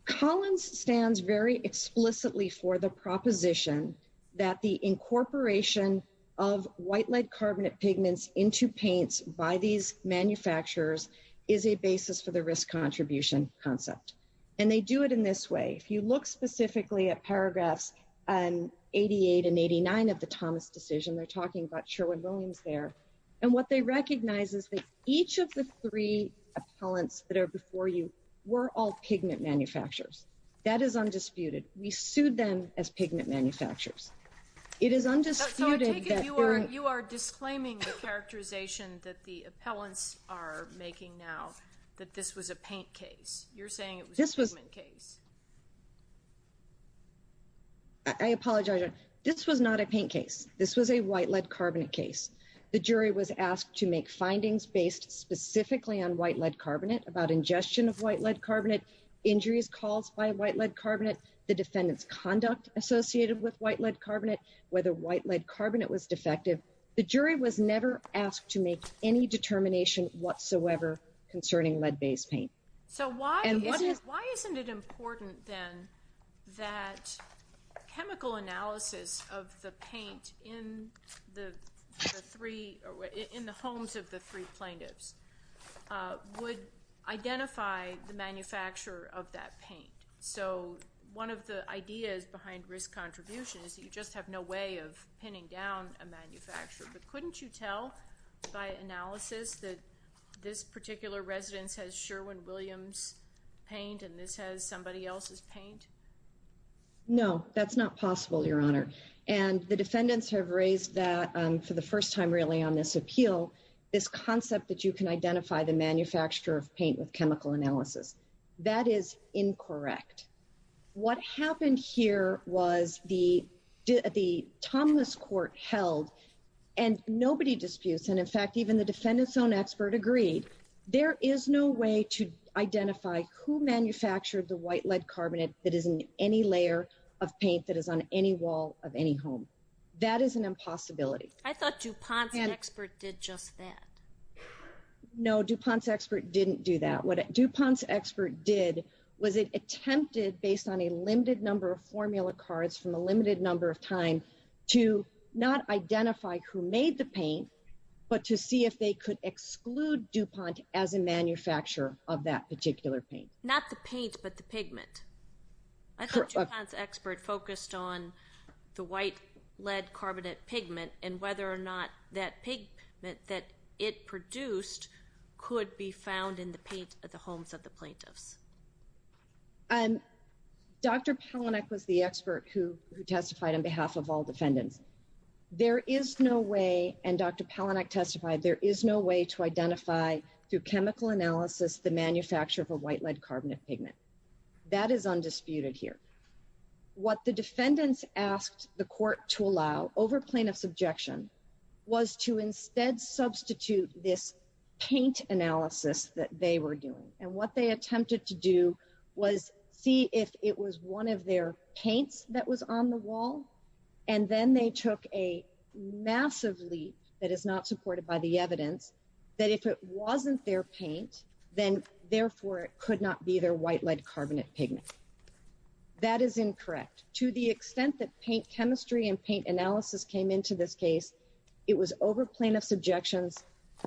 Collins stands very explicitly for the proposition that the incorporation of white lead carbonate pigments into paints by these manufacturers is a basis for the risk contribution concept. And they do it in this way. If you look specifically at paragraphs, an 88 and 89 of the Thomas decision, they're talking about Sherwin Williams there and what they recognize is that each of the three opponents that are before you were all pigment manufacturers. That is undisputed. We sued them as pigment manufacturers. It is undisputed. You are disclaiming the characterization that the appellants are making now that this was a paint case you're saying. I apologize. This was not a paint case. This was a white lead carbonate case. The jury was asked to make findings based specifically on white lead carbonate about ingestion of white lead carbonate injuries caused by white lead carbonate. The defendant's conduct associated with white lead carbonate, whether white lead carbonate was defective. The jury was never asked to make any determination whatsoever concerning lead based paint. So why isn't it important then that chemical analysis of the paint in the homes of the three plaintiffs would identify the manufacturer of that paint. So one of the ideas behind risk contributions, you just have no way of pinning down a manufacturer, but couldn't you tell by analysis that this particular residence has Sherwin Williams paint and this has somebody else's paint? No, that's not possible, Your Honor. And the defendants have raised that for the first time really on this appeal, this concept that you can identify the manufacturer of paint with chemical analysis. That is incorrect. What happened here was the Thomas court held and nobody disputes. And in fact, even the defendant's own expert agreed, there is no way to identify who manufactured the white lead carbonate that is in any layer of paint that is on any wall of any home. That is an impossibility. I thought DuPont's expert did just that. No, DuPont's expert didn't do that. What DuPont's expert did was it attempted based on a limited number of formula cards from a limited number of times to not identify who made the paint, but to see if they could exclude DuPont as a manufacturer of that particular paint. Not the paint, but the pigment. I thought DuPont's expert focused on the white lead carbonate pigment and whether or not that pigment that it produced could be found in the paint at the homes of the plaintiffs. Dr. Palanek was the expert who testified on behalf of all defendants. There is no way, and Dr. Palanek testified, there is no way to identify through chemical analysis, the manufacturer of a white lead carbonate pigment. That is undisputed here. What the defendants asked the court to allow over plaintiff's objection was to see if it was one of their paints that was on the wall. And then they took a massive leap that is not supported by the evidence that if it wasn't their paint, then therefore it could not be their white lead carbonate pigment. That is incorrect. To the extent that paint chemistry and paint analysis came into this case, it was over plaintiff's objection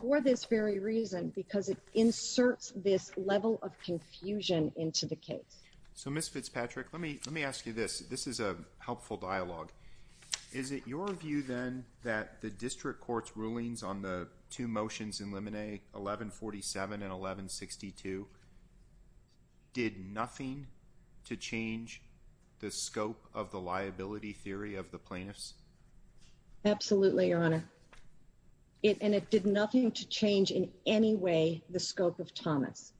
for this very reason, because it inserts this level of confusion into the case. So Ms. Fitzpatrick, let me, let me ask you this. This is a helpful dialogue. Is it your view then that the district court's rulings on the two motions in limine 1147 and 1162 did nothing to change the scope of the liability theory of the plaintiffs? Absolutely, Your Honor. And it did nothing to change in any way, the scope of Thomas.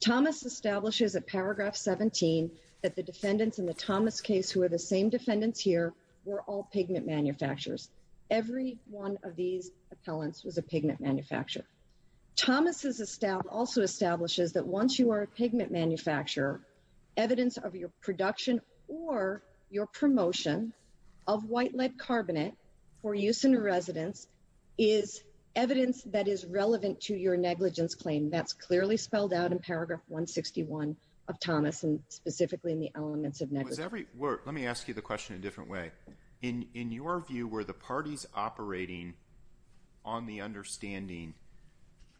Thomas establishes a paragraph 17, that the defendants in the Thomas case who are the same defendants here were all pigment manufacturers. Every one of these appellants was a pigment manufacturer. Thomas also establishes that once you are a pigment manufacturer, evidence of your production or your promotion of white lead carbonate for use in a residence is evidence that is relevant to your negligence claim. That's clearly spelled out in paragraph 161 of Thomas and specifically in the elements of negligence. Let me ask you the question in a different way. In your view, were the parties operating on the understanding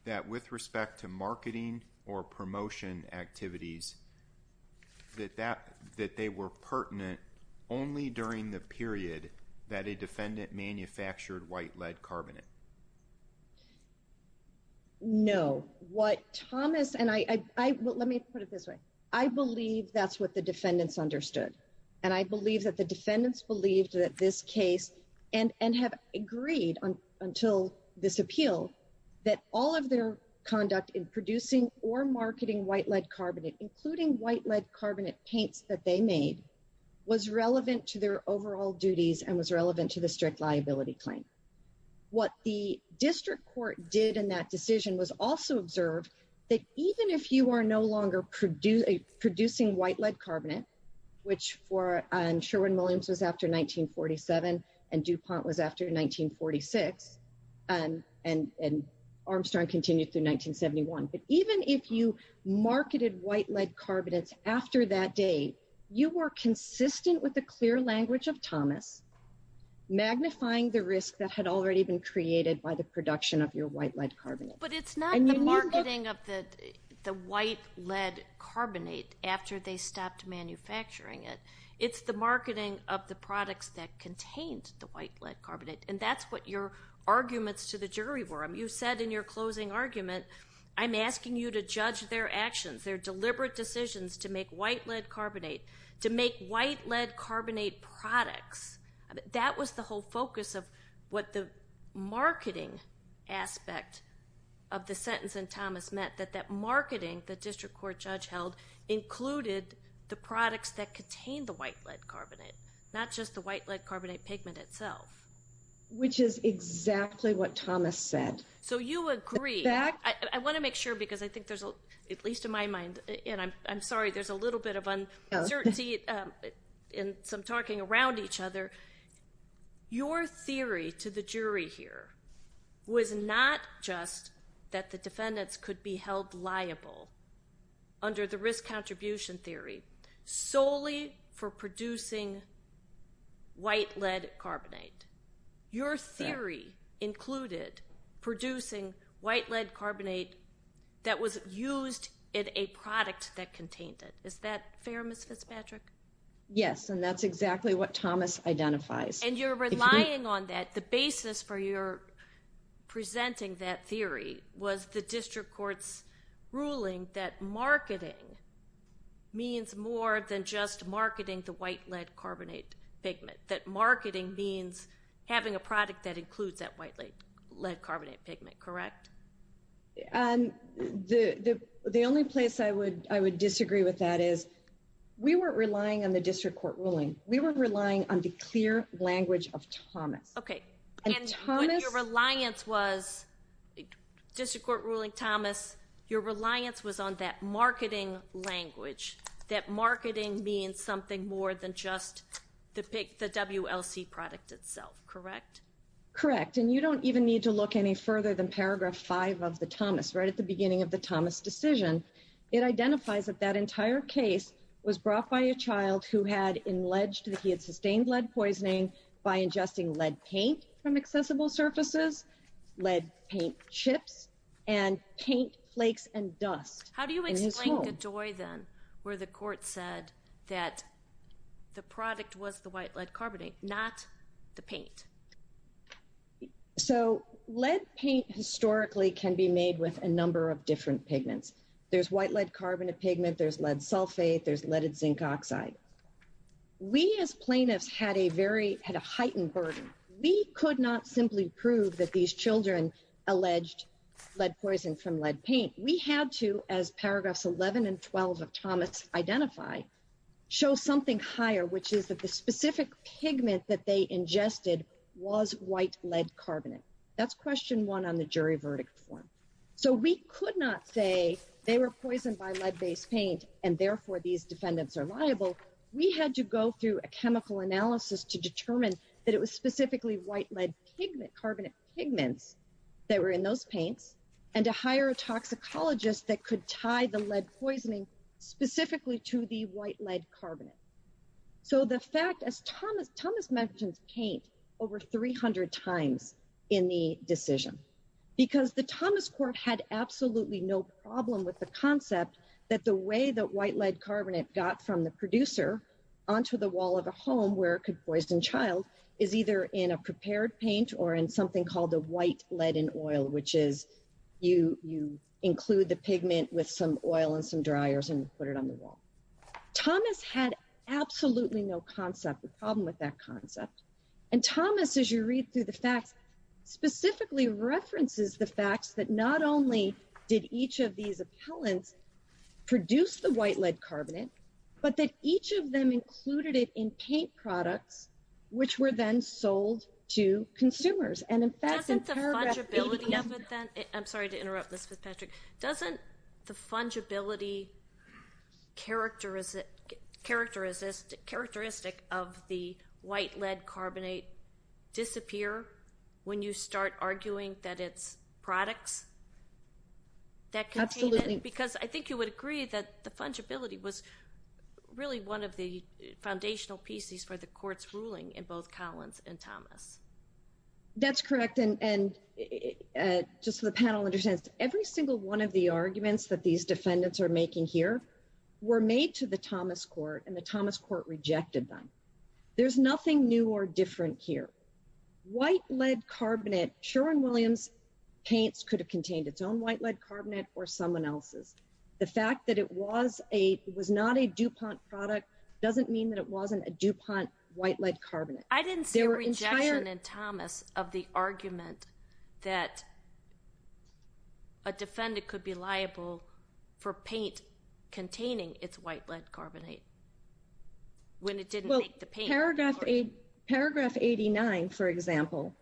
that with respect to marketing or promotion activities, that they were pertinent only during the period that a defendant manufactured white lead carbonate? No. What Thomas and I, let me put it this way. I believe that's what the defendants understood. And I believe that the defendants believed that this case and have agreed until this appeal that all of their conduct in producing or marketing white lead carbonate, including white lead carbonate paints that they made was relevant to their liability claim. What the district court did in that decision was also observed that even if you are no longer producing white lead carbonate, which for Sherwin-Williams was after 1947 and DuPont was after 1946 and Armstrong continued through 1971. But even if you marketed white lead carbonate after that day, you were consistent with the clear language of Thomas, magnifying the risk that had already been created by the production of your white lead carbonate. But it's not the marketing of the white lead carbonate after they stopped manufacturing it. It's the marketing of the products that contained the white lead carbonate. And that's what your arguments to the jury were. You said in your closing argument, I'm asking you to judge their actions, their deliberate decisions to make white lead carbonate, to make white lead carbonate products. That was the whole focus of what the marketing aspect of the sentence and Thomas met that, that marketing the district court judge held included the products that contained the white lead carbonate, not just the white lead carbonate pigment itself, which is exactly what Thomas said. So you agree. I want to make sure, because I think there's at least in my mind and I'm sorry, there's a little bit of uncertainty in some talking around each other. Your theory to the jury here was not just that the defendants could be held liable under the risk contribution theory solely for producing white lead carbonate. Your theory included producing white lead carbonate that was used in a product that contained it. Is that fair? Mrs. Patrick? Yes. And that's exactly what Thomas identifies. And you're relying on that. The basis for your presenting that theory was the district court's ruling that marketing means more than just marketing the white lead carbonate pigment. That marketing means having a product that includes that white lead carbonate pigment. Correct. And the, the, the only place I would, I would disagree with that is we weren't relying on the district court ruling. We weren't relying on the clear language of Thomas. Okay. And your reliance was district court ruling Thomas, your reliance was on that marketing language. That marketing means something more than just the WLC product itself. Correct? Correct. And you don't even need to look any further than paragraph five of the Thomas right at the beginning of the Thomas decision. It identifies that that entire case was brought by a child who had alleged that he had sustained lead poisoning by ingesting lead paint from accessible surfaces, lead paint chips and paint flakes and dust. How do you explain the joy then where the court said that the product was the white lead carbonate, not the paint? So lead paint historically can be made with a number of different pigments. There's white lead carbonate pigment, there's lead sulfate, there's leaded zinc oxide. We as plaintiffs had a very, had a heightened burden. We could not simply prove that these children's alleged lead poison from lead paint. We had to, as paragraphs 11 and 12 of Thomas identify, show something higher, which is that the specific pigment that they ingested was white lead carbonate. That's question one on the jury verdict form. So we could not say they were poisoned by lead based paint and therefore these defendants are liable. We had to go through a chemical analysis to determine that it was specifically white lead pigment, carbonate pigments that were in those paints and to hire a toxicologist that could tie the lead poisoning specifically to the white lead carbonate. So the fact as Thomas mentioned paint over 300 times in the decision, because the Thomas court had absolutely no problem with the concept that the way that white lead carbonate got from the producer onto the wall of a home where it could poison child is either in a prepared paint or in something called the white lead in oil, which is you, you include the pigment with some oil and some dryers and put it on the wall. Thomas had absolutely no concept of problem with that concept. And Thomas, as you read through the fact, specifically references the fact that not only did each of these opponents produce the white lead carbonate, but that each of them included it in paint products, which were then sold to consumers. And in fact, I'm sorry to interrupt. Doesn't the fungibility characteristic characteristic characteristic of the white lead carbonate disappear when you start arguing that it's products that continue, because I think you would agree that the fungibility was really one of the foundational pieces for the court's ruling in both Collins and Thomas. That's correct. And just so the panel understands every single one of the arguments that these defendants are making here were made to the Thomas court and the Thomas court rejected them. There's nothing new or different here. White lead carbonate Sherwin-Williams paints could have contained its own white lead carbonate or someone else's. The fact that it was a was not a DuPont product doesn't mean that it wasn't a DuPont white lead carbonate. I didn't see rejection in Thomas of the argument that a defendant could be liable for paint containing its white lead carbonate. Paragraph 89, for example,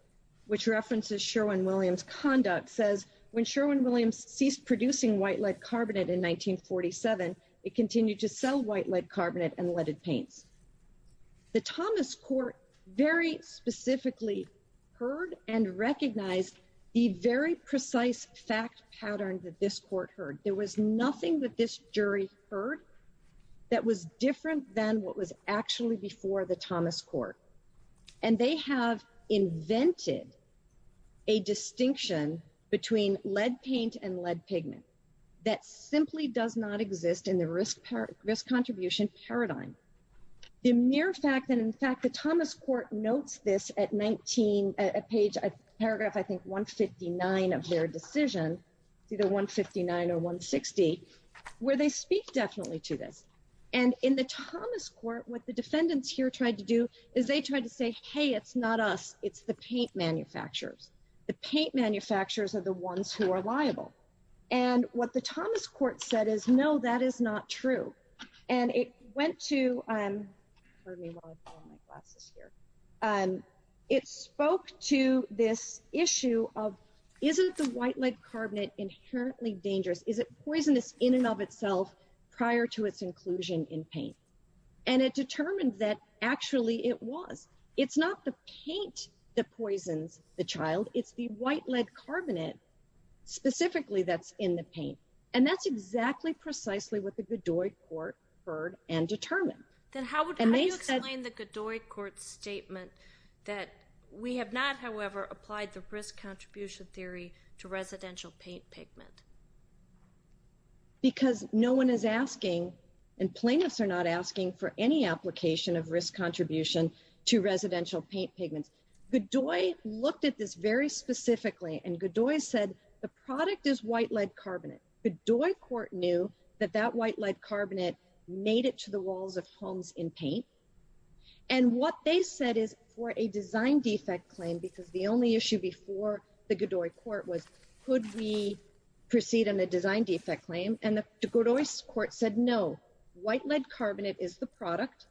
which references Sherwin-Williams conduct says when Sherwin-Williams ceased producing white lead carbonate in 1947, it continued to sell white lead carbonate and leaded paint. The Thomas court very specifically heard and recognized the very precise fact pattern that this court heard. There was nothing that this jury heard that was different than what was actually before the Thomas court. And they have invented a distinction between lead paint and lead pigment that simply does not exist in the risk contribution paradigm. The mere fact that in fact, the Thomas court notes this at 19 at page paragraph, I think one 59 of their decision, either one 59 or one 60 where they speak definitely to this. And in the Thomas court, what the defendants here tried to do is they tried to say, Hey, it's not us. It's the paint manufacturers. The paint manufacturers are the ones who are liable. And what the Thomas court said is no, that is not true. And it went to, it spoke to this issue of isn't the white lead carbonate inherently dangerous? Is it poisonous in and of itself prior to its inclusion in paint? And it determined that actually it was, it's not the paint that poisons the child. It's the white lead carbonate specifically that's in the paint. And that's exactly precisely what the Godoy court heard and determined. And they said in the Godoy court statement that we have not, however, applied the risk contribution theory to residential paint pigment. Because no one is asking and plaintiffs are not asking for any application of risk contribution to residential paint pigments. The Godoy looked at this very specifically and Godoy said, the product is white lead carbonate. The Godoy court knew that that white lead carbonate made it to the walls of homes in paint. And what they said is for a design defect claim, because the only issue before the Godoy court was, could we proceed on the design defect claim? And the Godoy court said, no, white lead carbonate is the product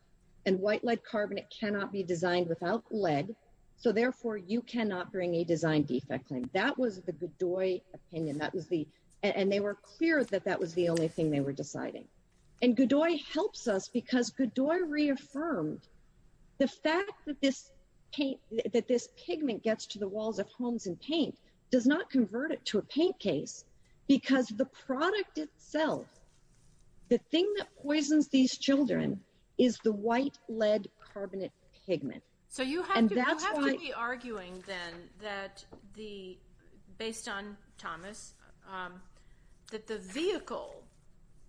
and white lead carbonate cannot be applied. So therefore you cannot bring a design defect claim. That was the Godoy opinion. And they were clear that that was the only thing they were deciding. And Godoy helps us because Godoy reaffirmed the fact that this paint, that this pigment gets to the walls of homes and paint does not convert it to a paint case because the product itself, So you have to be arguing then that the, based on Thomas that the vehicle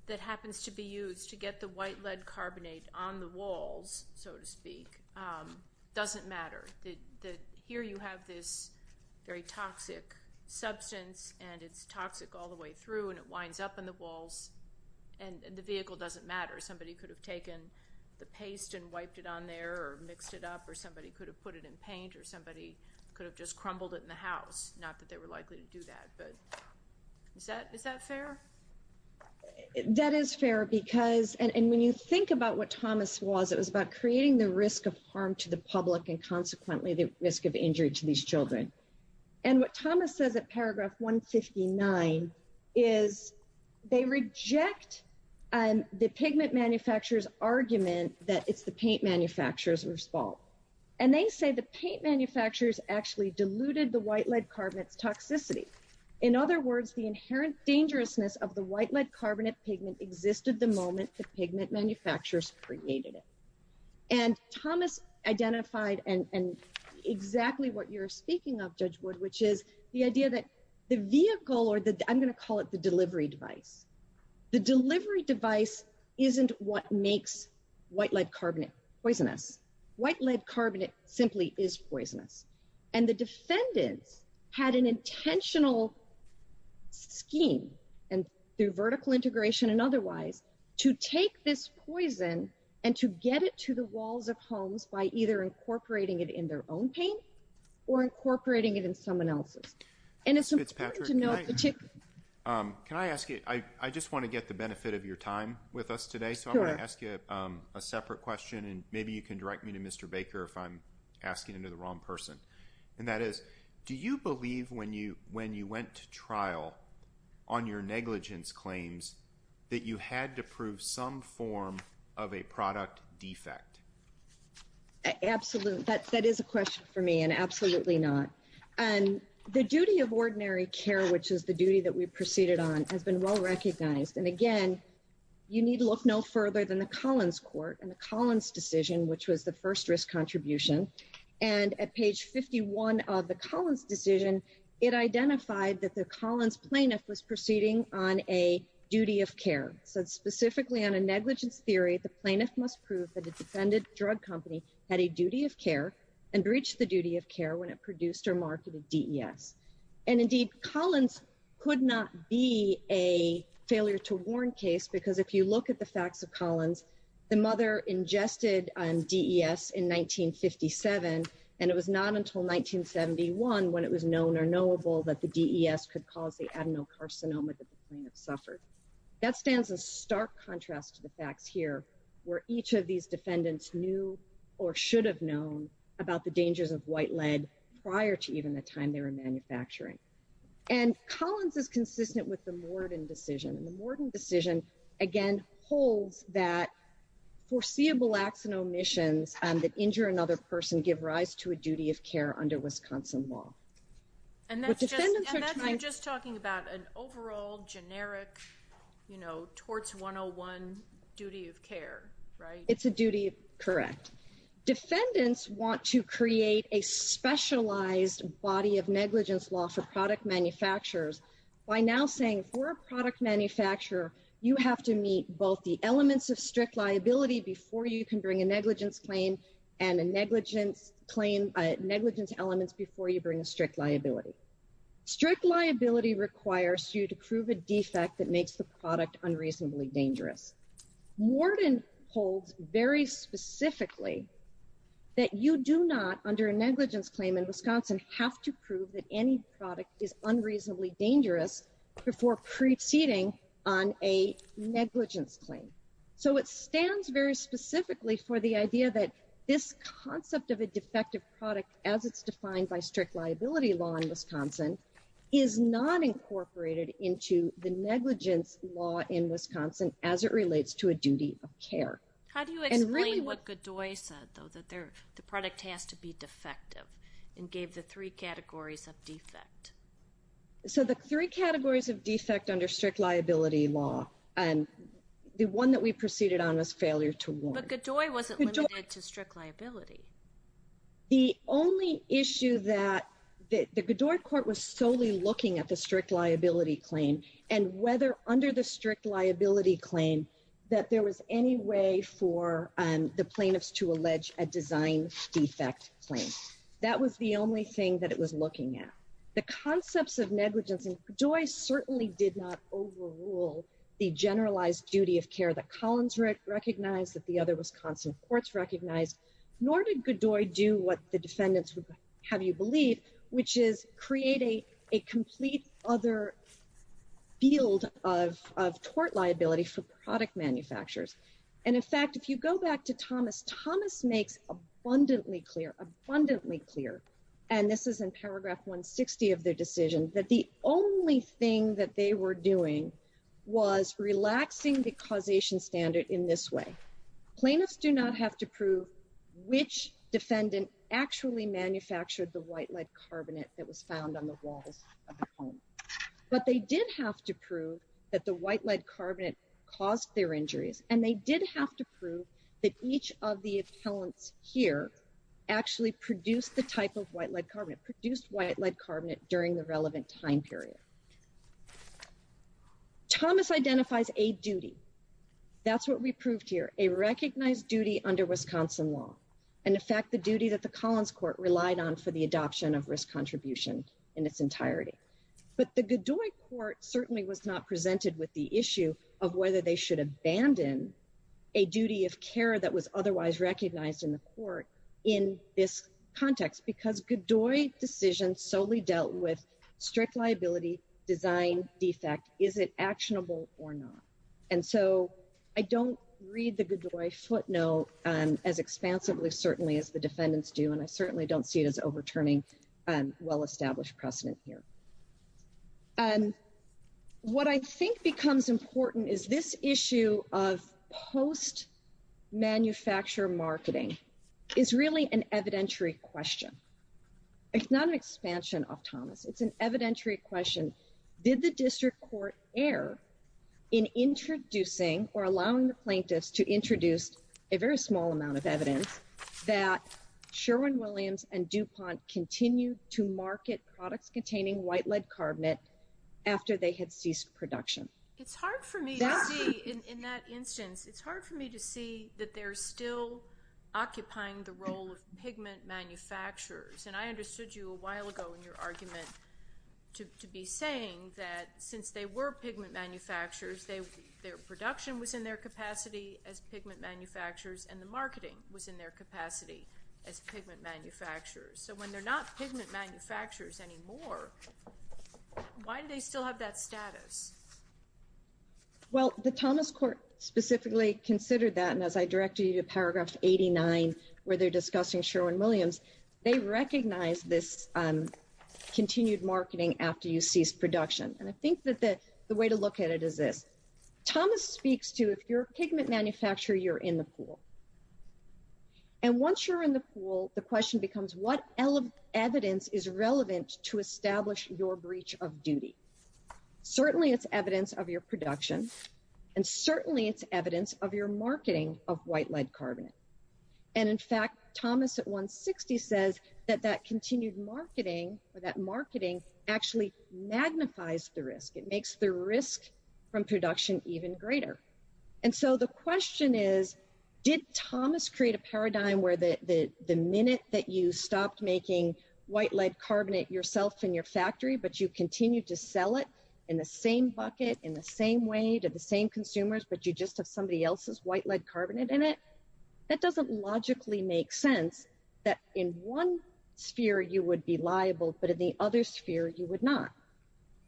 that happens to be used to get the white lead carbonate on the walls, so to speak, doesn't matter. Here you have this very toxic substance and it's toxic all the way through and it winds up in the walls and the vehicle doesn't matter. Is that it? could have done or somebody could have taken the paste And when you think about what Thomas was, it was about creating the risk of harm to the public and consequently the pigment manufacturers argument that it's the paint manufacturers were small. And they say the paint manufacturers actually diluted the white lead carbonate toxicity. In other words, the inherent dangerousness of the white lead carbonate pigment existed the moment the pigment manufacturers created it. And Thomas identified and exactly what you're speaking of, which is the idea that the vehicle or the, I'm going to call it the delivery device, the delivery device isn't what makes white lead carbonate poisonous. White lead carbonate simply is poisonous. And the defendant had an intentional scheme and through vertical integration and otherwise to take this poison and to get it to the walls of homes by either incorporating it in their own paint or incorporating it in someone else. And it's important to know, can I ask you, I just want to get the benefit of your time with us today. So I'm going to ask you a separate question and maybe you can direct me to Mr. Baker if I'm asking into the wrong person. And that is, do you believe when you, when you went to trial on your negligence claims that you had to prove some form of a product defect? Absolutely. That is a question for me and absolutely not. And the duty of ordinary care, which was the duty that we proceeded on has been well recognized. And again, you need to look no further than the Collins court and the Collins decision, which was the first risk contribution. And at page 51 of the Collins decision, it identified that the Collins plaintiff was proceeding on a duty of care. So specifically on a negligence theory, the plaintiff must prove that a defendant drug company had a duty of care and breached the duty of care when it produced or marketed DES. And indeed Collins could not be a failure to warn case because if you look at the facts of Collins, the mother ingested DES in 1957, and it was not until 1971 when it was known or knowable that the DES could cause the adenocarcinoma that the plaintiff suffered. That stands in stark contrast to the fact here where each of these defendants knew or should have known about the dangers of white lead prior to even the time they were manufacturing. And Collins is consistent with the Morton decision and the Morton decision again holds that foreseeable acts and omissions that injure another person give rise to a duty of care under Wisconsin law. And that's just talking about an overall generic, you know, towards 101 duty of care, right? It's a duty. Correct. Defendants want to create a specialized body of negligence law for product manufacturers by now saying for a product manufacturer, you have to meet both the elements of strict liability before you can bring a negligence claim and a negligent claim negligent elements before you bring a strict liability. Strict liability requires you to prove a defect that makes the product unreasonably dangerous. Morton holds very specifically that you do not under a negligence claim in Wisconsin have to prove that any product is unreasonably dangerous before proceeding on a negligence claim. So it stands very specifically for the idea that this concept of a defective product, as it's defined by strict liability law in Wisconsin, is not incorporated into the negligence law in Wisconsin as it relates to a duty of care. How do you explain what Godoy said though, that the product has to be defective and gave the three categories of defect. So the three categories of defect under strict liability law, and the one that we proceeded on was failure to warn. But Godoy wasn't limited to strict liability. The only issue that the Godoy court was solely looking at the strict liability claim and whether under the strict liability claim that there was any way for the plaintiffs to allege a design defect claim. That was the only thing that it was looking at. The concepts of negligence and Godoy certainly did not overrule the generalized duty of care that Collins recognized that the other Wisconsin courts recognized, nor did Godoy do what the defendants have you believe, which is creating a complete other field of, of tort liability for product manufacturers. And in fact, if you go back to Thomas, Thomas makes abundantly clear, abundantly clear. And this is in paragraph 160 of the decision that the only thing that they were doing was relaxing the causation standard in this way. Plaintiffs do not have to prove which defendant actually manufactured the white lead carbonate that was found on the wall, but they did have to prove that the white lead carbonate caused their injuries. And they did have to prove that each of the excellent here actually produced the type of white lead carbonate produced white lead carbonate during the relevant time period. Thomas identifies a duty. That's what we proved here, a recognized duty under Wisconsin law. And in fact, the duty that the Collins court relied on for the adoption of risk contributions in its entirety. But the Godoy court certainly was not presented with the issue of whether they should abandon a duty of care that was otherwise recognized in the court in this context, because Godoy decisions solely dealt with strict liability design defect. Is it actionable or not? And so I don't read the Godoy footnote as expansively, certainly as the defendants do. And I certainly don't see it as overturning well-established precedent here. What I think becomes important is this issue of post manufacturer marketing. It's really an evidentiary question. It's not an expansion of Thomas. It's an evidentiary question. Did the district court air in introducing or allowing the plaintiffs to introduce a very small amount of evidence that Sherwin Williams and DuPont continued to market products containing white lead carbonate after they had ceased production. It's hard for me in that instance, it's hard for me to see that they're still occupying the role of pigment manufacturers. And I understood you a while ago in your argument to, to be saying that since they were pigment manufacturers, their production was in their capacity as pigment manufacturers and the marketing was in their capacity as pigment manufacturers. So when they're not pigment manufacturers anymore, why do they still have that status? Well, the Thomas court specifically considered that. And as I directed you to paragraphs 89 where they're discussing Sherwin Williams, they recognize this, um, continued marketing after you see his production. And I think that that's the way to look at it as if Thomas speaks to, if you're a pigment manufacturer, you're in the pool. And once you're in the pool, the question becomes what element evidence is relevant to establish your breach of duty. Certainly it's evidence of your production. And certainly it's evidence of your marketing of white lead carbonate. And in fact, Thomas at one 60 says that that continued marketing for that marketing actually magnifies the risk. It makes the risk from production even greater. And so the question is, did Thomas create a paradigm where the, the minute that you stopped making white lead carbonate yourself in your factory, but you continue to sell it in the same bucket, in the same way to the same consumers, but you just have somebody else's white lead carbonate in it. That doesn't logically make sense that in one sphere, you would be liable, but in the other sphere, you would not.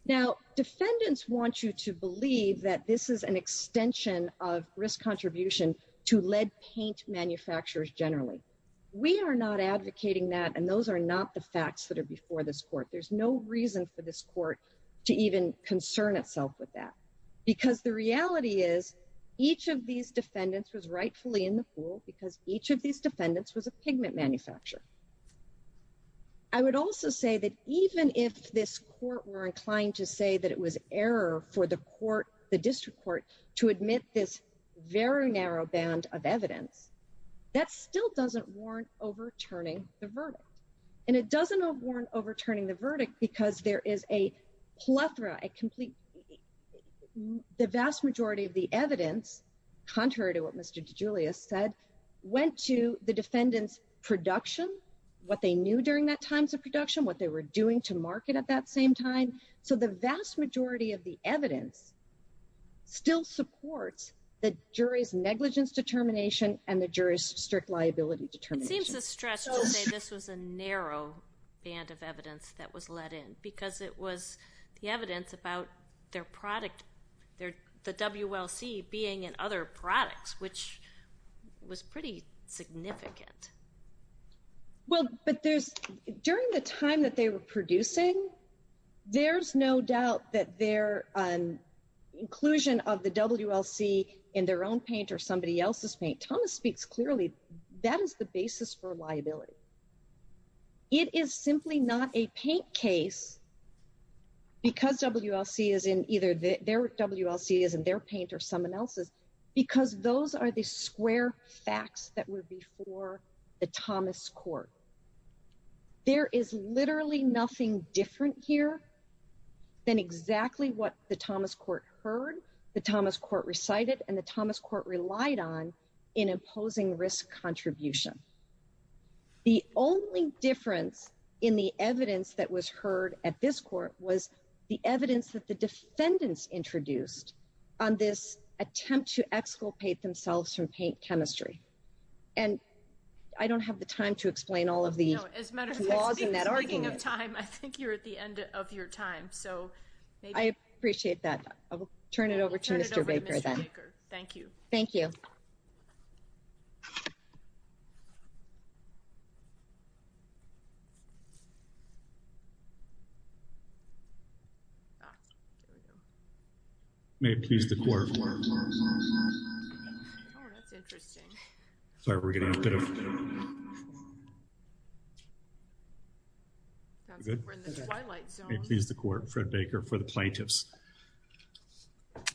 Now defendants want you to believe that this is an extension of risk contribution to lead paint manufacturers. Generally, we are not advocating that. And those are not the facts that are before this court. There's no reason for this court to even concern itself with that because the evidence is clear. And the evidence is clear that the lead carbonate was not produced in the pool because each of these defendants was a pigment manufacturer. I would also say that even if this court were inclined to say that it was error for the court, the district courts to admit this very narrow band of evidence. That still doesn't warrant overturning the verdict. And it doesn't warrant overturning the verdict because there is a plethora, a complete, the vast majority of the evidence, contrary to what Mr. DeGiulio said, went to the defendant's production, what they knew during that time of production, what they were doing to market at that same time. So the vast majority of the evidence still supports the jury's negligence determination and the jury's strict liability determination. This was a narrow band of evidence that was let in because it was, the evidence about their product, the WLC being in other products, which was pretty significant. Well, but there's, during the time that they were producing, there's no doubt that their inclusion of the WLC in their own paint or somebody else's paint, Thomas speaks clearly. That is the basis for liability. It is simply not a paint case because WLC is in either their WLC is in their paint or someone else's, because those are the square facts that were before the Thomas court. There is literally nothing different here than exactly what the Thomas court heard. The Thomas court recited, and the Thomas court relied on in imposing risk contribution. The only difference in the evidence that was heard at this court was the evidence that the defendants introduced on this attempt to exculpate themselves from paint chemistry. And I don't have the time to explain all of the laws in that argument. I think you're at the end of your time. So I appreciate that. I'll turn it over to Mr. Baker. Thank you. Thank you. Thank you. May it please the court. May it please the court, Fred Baker for the plaintiffs.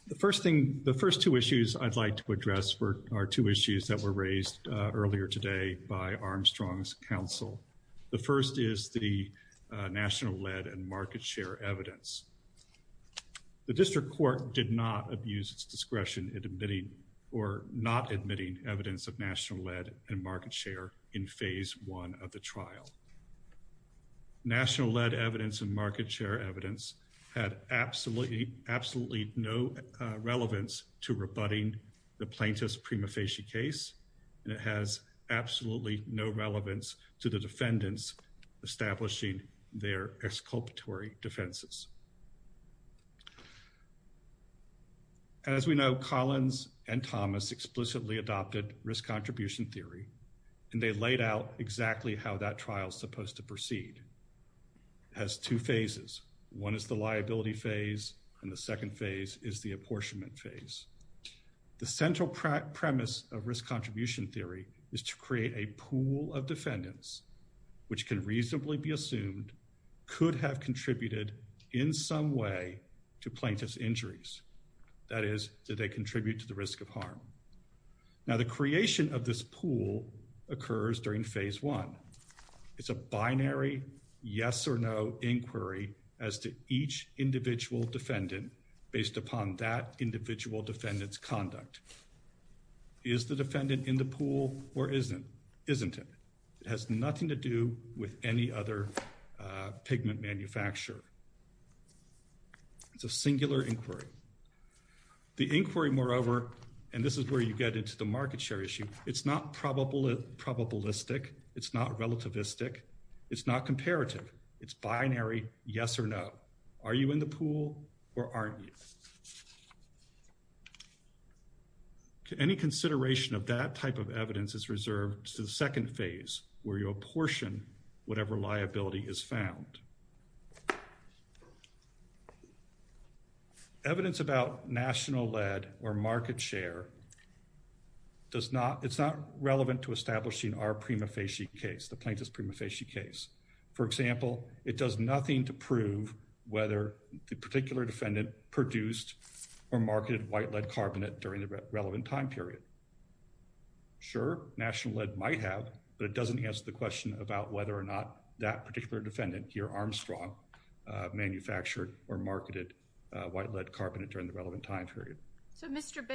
The first thing, I'd like to address for our two issues that were raised earlier today by Armstrong's counsel. The first is the national lead and market share evidence. The district court did not abuse discretion in admitting or not admitting evidence of national lead and market share in phase one of the trial, national lead evidence and market share evidence had absolutely, absolutely no relevance to rebutting the plaintiff's prima facie case. And it has absolutely no relevance to the defendants establishing their exculpatory defenses. As we know Collins and Thomas explicitly adopted risk contribution theory and they laid out exactly how that trial is supposed to proceed as two phases. One is the liability phase and the second phase is the apportionment phase. The central premise of risk contribution theory is to create a pool of defendants, which can reasonably be assumed, could have contributed in some way to plaintiff's injuries. That is that they contribute to the risk of harm. Now the creation of this pool occurs during phase one. It's a binary yes or no inquiry as to each individual defendant based upon that individual defendant's conduct. Is the defendant in the pool or isn't it? It has nothing to do with any other pigment manufacturer. It's a singular inquiry. The inquiry moreover, and this is where you get into the market share issue, it's not probabilistic, it's not relativistic, it's not comparative. It's binary yes or no. Are you in the pool or aren't you? To any consideration of that type of evidence is reserved to the second phase where you apportion whatever liability is found. Evidence about national lead or market share, it's not relevant to establishing our prima facie case, the plaintiff's prima facie case. For example, it does nothing to prove whether the particular defendant produced or marketed white lead carbonate during the relevant time period. Sure, national lead might have, but it doesn't answer the question about whether or not that particular defendant here Armstrong manufactured or marketed white lead carbonate during the relevant time period.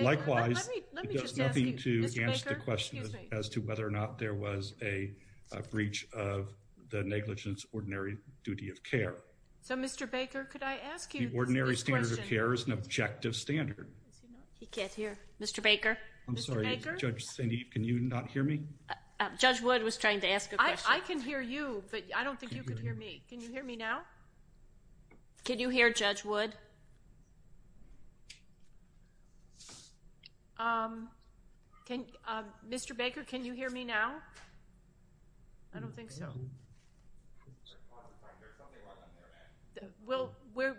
Likewise, it does nothing to answer the question as to whether or not there was a breach of the negligence ordinary duty of care. The ordinary standard of care is an objective standard. He can't hear. Mr. Baker. I'm sorry, Judge Sinead, can you not hear me? Judge Wood was trying to ask a question. I can hear you, but I don't think you can hear me. Can you hear me now? Can you hear Judge Wood? Mr. Baker, can you hear me now?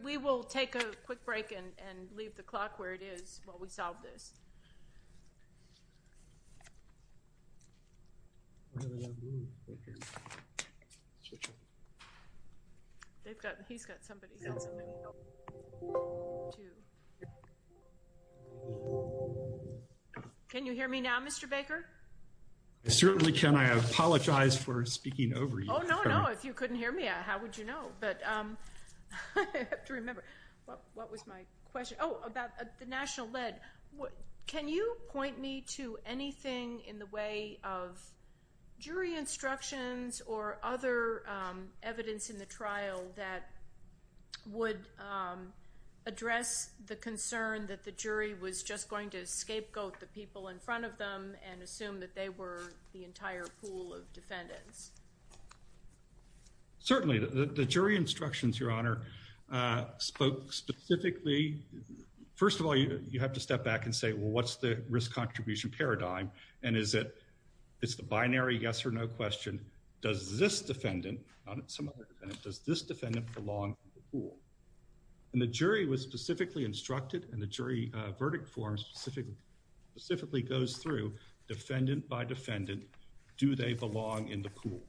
We will take a quick break and leave the clock where it is while we solve this. He's got somebody. Can you hear me now, Mr. Baker? I certainly can. I apologize for speaking over you. Oh, no, no. If you couldn't hear me, how would you know? But I have to remember. What was my question? Oh, about the national lead. Can you point me to anything in the way of jury instructions or other evidence in the trial that would address the concern that the jury was just going to scapegoat the people in front of them and assume that they were the entire pool of defendants? Certainly. The jury instructions, Your Honor, spoke specifically. First of all, you have to step back and say, well, what's the risk contribution paradigm? And is it a binary yes or no question? Does this defendant belong in the pool? And the jury was specifically instructed and the jury verdict form specifically goes through defendant by defendant. Do they belong in the pool?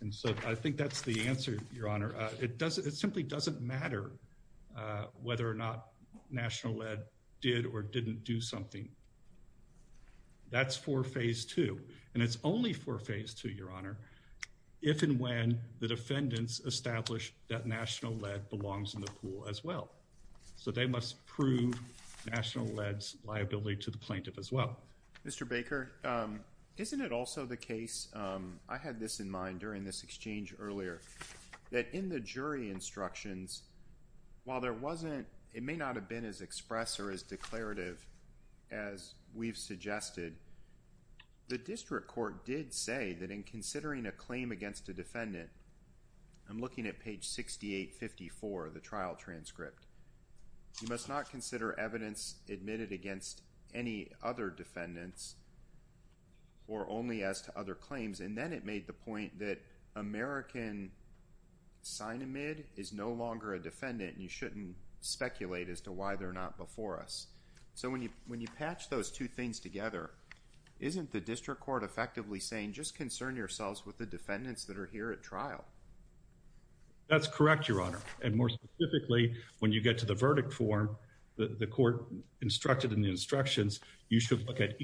And so I think that's the answer, Your Honor. It simply doesn't matter whether or not national lead did or didn't do something. That's for phase two. And it's only for phase two, Your Honor, if and when the defendants establish that national lead belongs in the pool as well. So they must prove national lead's liability to the plaintiff as well. Mr. Baker, isn't it also the case, I had this in mind during this exchange earlier, that in the jury instructions, while there wasn't, it may not have been as express or as declarative as we've suggested, the district court did say that in considering a claim against a defendant, I'm looking at page 6854 of the trial transcript, you must not consider evidence admitted against any other defendants or only as to other claims. And then it made the point that American Sinomid is no longer a defendant and you shouldn't speculate as to why they're not before us. So when you patch those two things together, isn't the district court effectively saying, just concern yourselves with the defendants that are here at trial? That's correct, Your Honor. And more specifically, when you get to the verdict form, the court instructed in the instructions, you should look at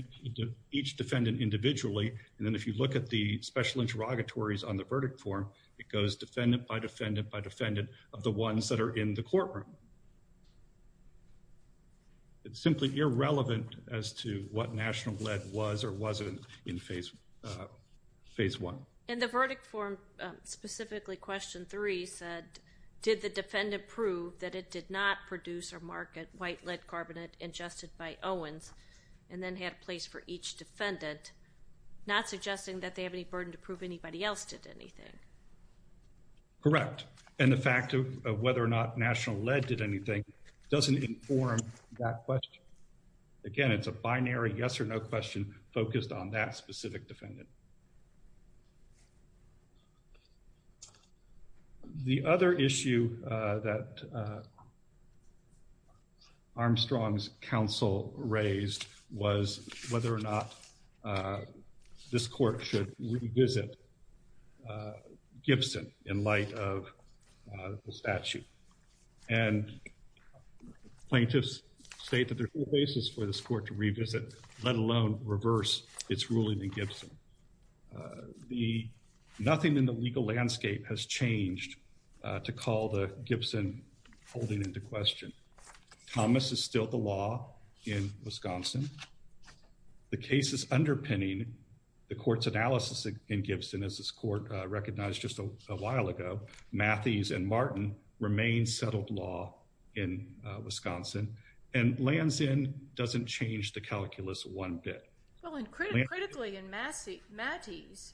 each defendant individually. And then if you look at the special interrogatories on the verdict form, it goes defendant by defendant by defendant of the ones that are in the courtroom. It's simply irrelevant as to what national lead was or wasn't in phase 1. And the verdict form, specifically question 3, said did the defendant prove that it did not produce or market white lead carbonate ingested by Owens and then have place for each defendant, not suggesting that they have any burden to prove anybody else did anything. Correct. And the fact of whether or not national lead did anything doesn't inform that question. Again, it's a binary yes or no question focused on that specific defendant. The other issue that Armstrong's counsel raised was whether or not this court should revisit Gibson in light of the statute. And plaintiffs state that there's no basis for this court to revisit, let alone reverse its ruling in Gibson. Nothing in the legal landscape has changed to call the Gibson holding into question. Thomas is still the law in Wisconsin. The case is underpinning the court's analysis in Gibson as this court recognized just a while ago. Matthees and Martin remain settled law in Wisconsin. And Lansin doesn't change the calculus one bit. Well, and critically in Matthees,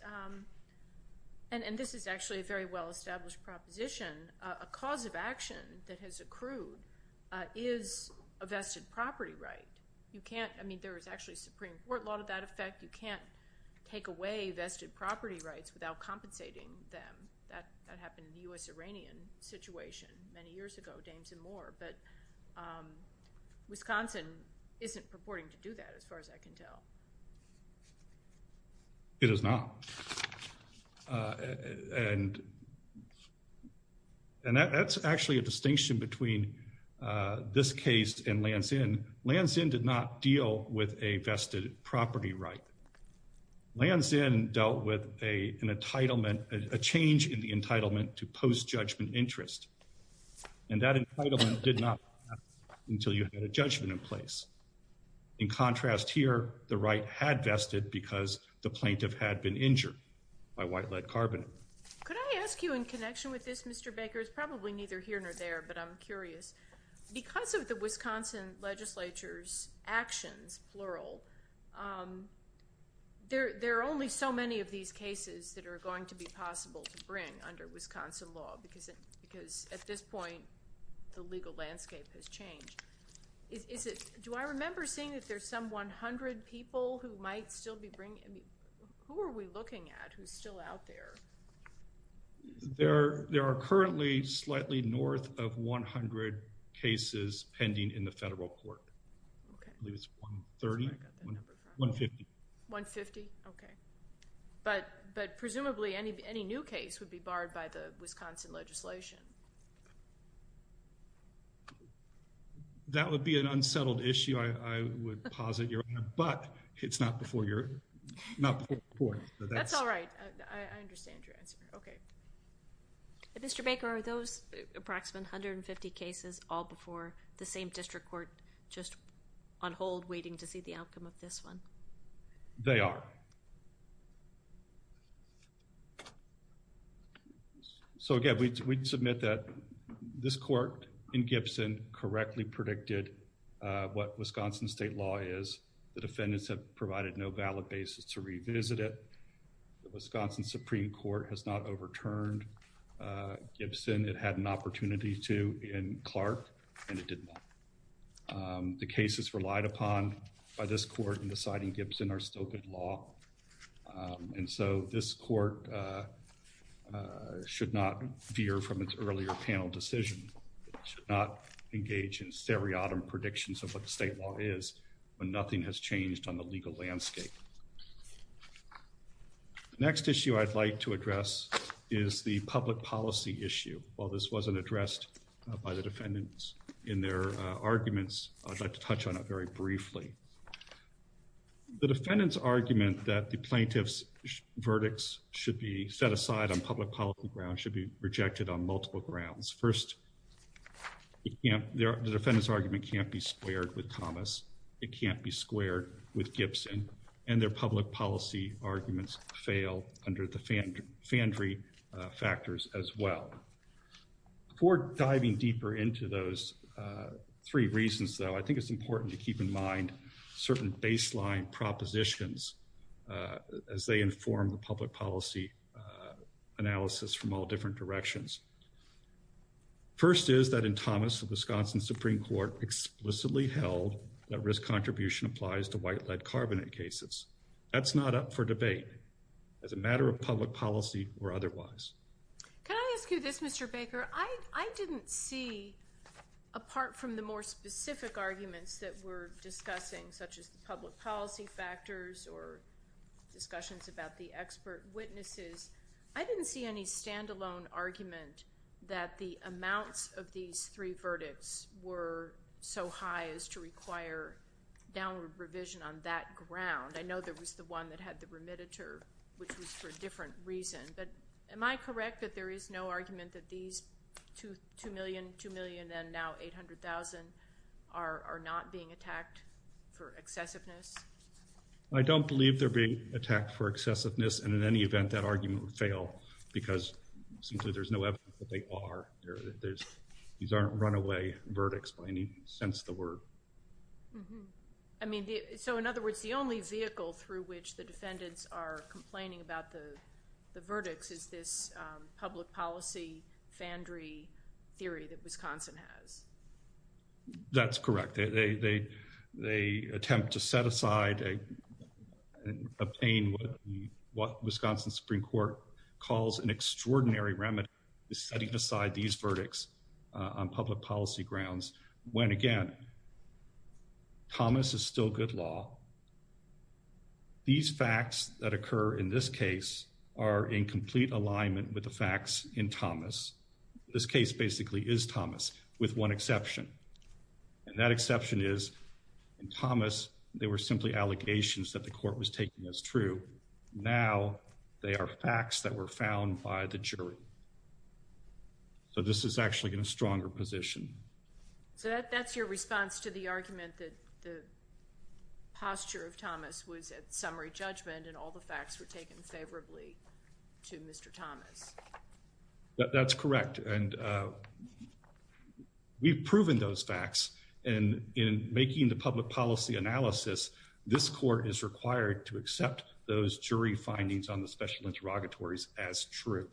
and this is actually a very well-established proposition, a cause of action that has accrued is a vested property right. You can't take away vested property rights without compensating them. That happened in the U.S.-Iranian situation many years ago, Danes and more, but Wisconsin isn't purporting to do that as far as I can tell. It is not. And that's actually a distinction between this case and Lansin. In Lansin, Lansin did not deal with a vested property right. Lansin dealt with an entitlement, a change in the entitlement to post-judgment interest. And that entitlement did not last until you had a judgment in place. In contrast here, the right had vested because the plaintiff had been injured by white lead carbon. Could I ask you in connection with this, Mr. Baker? It's probably neither here nor there, but I'm curious. Because of the Wisconsin legislature's actions, plural, there are only so many of these cases that are going to be possible to bring under Wisconsin law because at this point the legal landscape has changed. Do I remember seeing that there's some 100 people who might still be bringing? Who are we looking at who's still out there? There are currently slightly north of 100 cases pending in the federal court. I believe it's 130, 150. 150, okay. But presumably any new case would be barred by the Wisconsin legislation. That would be an unsettled issue, I would posit. But it's not before your court. That's all right. I understand your answer. Okay. Mr. Baker, are those approximate 150 cases all before the same district court just on hold waiting to see the outcome of this one? They are. So again, we submit that this court in Gibson correctly predicted what Wisconsin state law is. The defendants have provided no valid basis to revisit it. The Wisconsin Supreme Court has not overturned Gibson. It had an opportunity to in Clark, and it didn't. The cases relied upon by this court in deciding Gibson are still good law. And so this court should not veer from its earlier panel decision. It should not engage in stereotome predictions of what the state law is and has changed on the legal landscape. The next issue I'd like to address is the public policy issue. While this wasn't addressed by the defendants in their arguments, I'd like to touch on it very briefly. The defendant's argument that the plaintiff's verdicts should be set aside on public policy grounds should be rejected on multiple grounds. First, the defendant's argument can't be squared with Thomas. It can't be squared with Gibson. And their public policy arguments fail under the Fandry factors as well. Before diving deeper into those three reasons, though, I think it's important to keep in mind certain baseline propositions as they inform the public policy analysis from all different directions. First is that in Thomas, the Wisconsin Supreme Court explicitly held that risk contribution applies to white-led carbonate cases. That's not up for debate as a matter of public policy or otherwise. Can I ask you this, Mr. Baker? I didn't see, apart from the more specific arguments that we're discussing, such as public policy factors or discussions about the expert witnesses, I didn't see any standalone argument that the amounts of these three verdicts were so high as to require downward provision on that ground. I know there was the one that had the remittiture, which was for a different reason. But am I correct that there is no argument that these two million, two million and now 800,000 are not being attacked for excessiveness? I don't believe they're being attacked for excessiveness. And in any event, that argument would fail because it seems that there's no evidence that they are. These aren't runaway verdicts by any sense of the word. I mean, so in other words, the only vehicle through which the defendants are complaining about the verdicts is this public policy fandry theory that Wisconsin has. That's correct. They attempt to set aside and obtain what the Wisconsin Supreme Court calls an extraordinary remedy, setting aside these verdicts on public policy grounds. When again, Thomas is still good law. These facts that occur in this case are in complete alignment with the facts in Thomas. This case basically is Thomas, with one exception. And that exception is in Thomas, they were simply allegations that the court was taking as true. Now, they are facts that were found by the jury. So this is actually in a stronger position. So that's your response to the argument that the posture of Thomas was a summary judgment and all the facts were taken favorably to Mr. Thomas. That's correct. And we've proven those facts. And in making the public policy analysis, this court is required to accept those jury findings on the special interrogatories as true.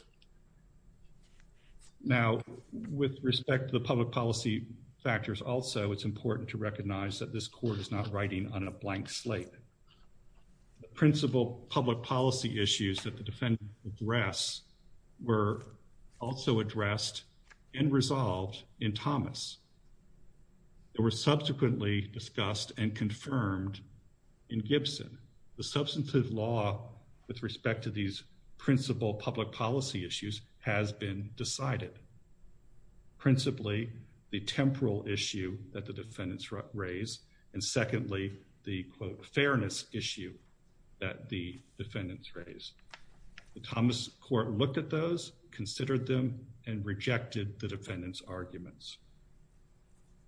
Now, with respect to the public policy factors also, it's important to recognize that this court is not writing on a blank slate. The principal public policy issues that the defendant addressed were also addressed and resolved in Thomas. They were subsequently discussed and confirmed in Gibson. The substantive law with respect to these principal public policy issues has been decided. Principally, the temporal issue that the defendants raised and secondly, the quote, fairness issue that the defendants raised. The Thomas court looked at those, considered them and rejected the defendants' arguments.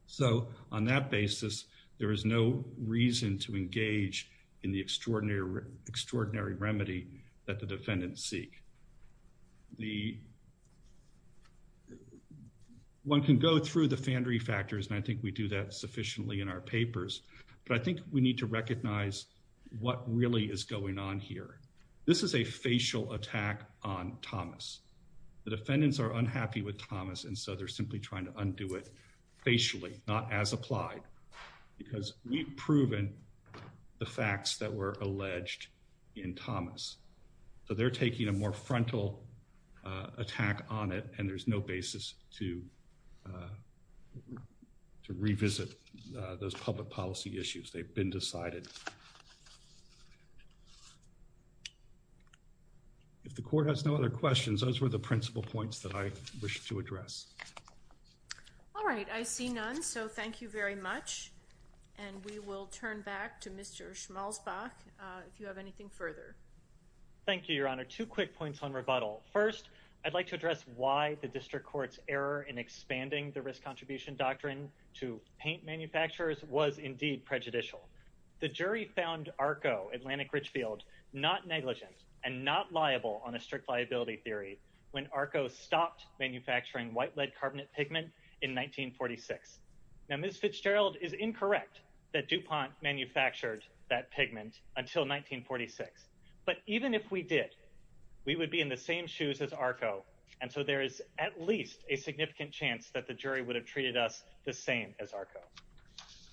So on that basis, there is no reason to engage in the extraordinary remedy that the defendants seek. One can go through the Fandry factors and I think we do that sufficiently in our papers, but I think we need to recognize what really is going on here. This is a facial attack on Thomas. The defendants are unhappy with Thomas and so they're simply trying to undo it facially, not as applied, because we've proven the facts that were alleged in Thomas. So they're taking a more frontal attack on it and there's no basis to revisit those public policy issues. They've been decided. If the court has no other questions, those were the principal points that I wish to address. All right, I see none. So thank you very much. And we will turn back to Mr. Schmalzbach if you have anything further. Thank you, Your Honor. Two quick points on rebuttal. First, I'd like to address why the district court's error in expanding the risk contribution doctrine to paint manufacturers was indeed prejudicial. The jury found ARCO, Atlantic Richfield, not negligent and not liable on a strict liability theory when ARCO stopped manufacturing white lead carbonate pigment in 1946. Now, Ms. Fitzgerald is incorrect that DuPont manufactured that pigment until 1946. But even if we did, we would be in the same shoes as ARCO, and so there is at least a significant chance that the jury would have treated us the same as ARCO.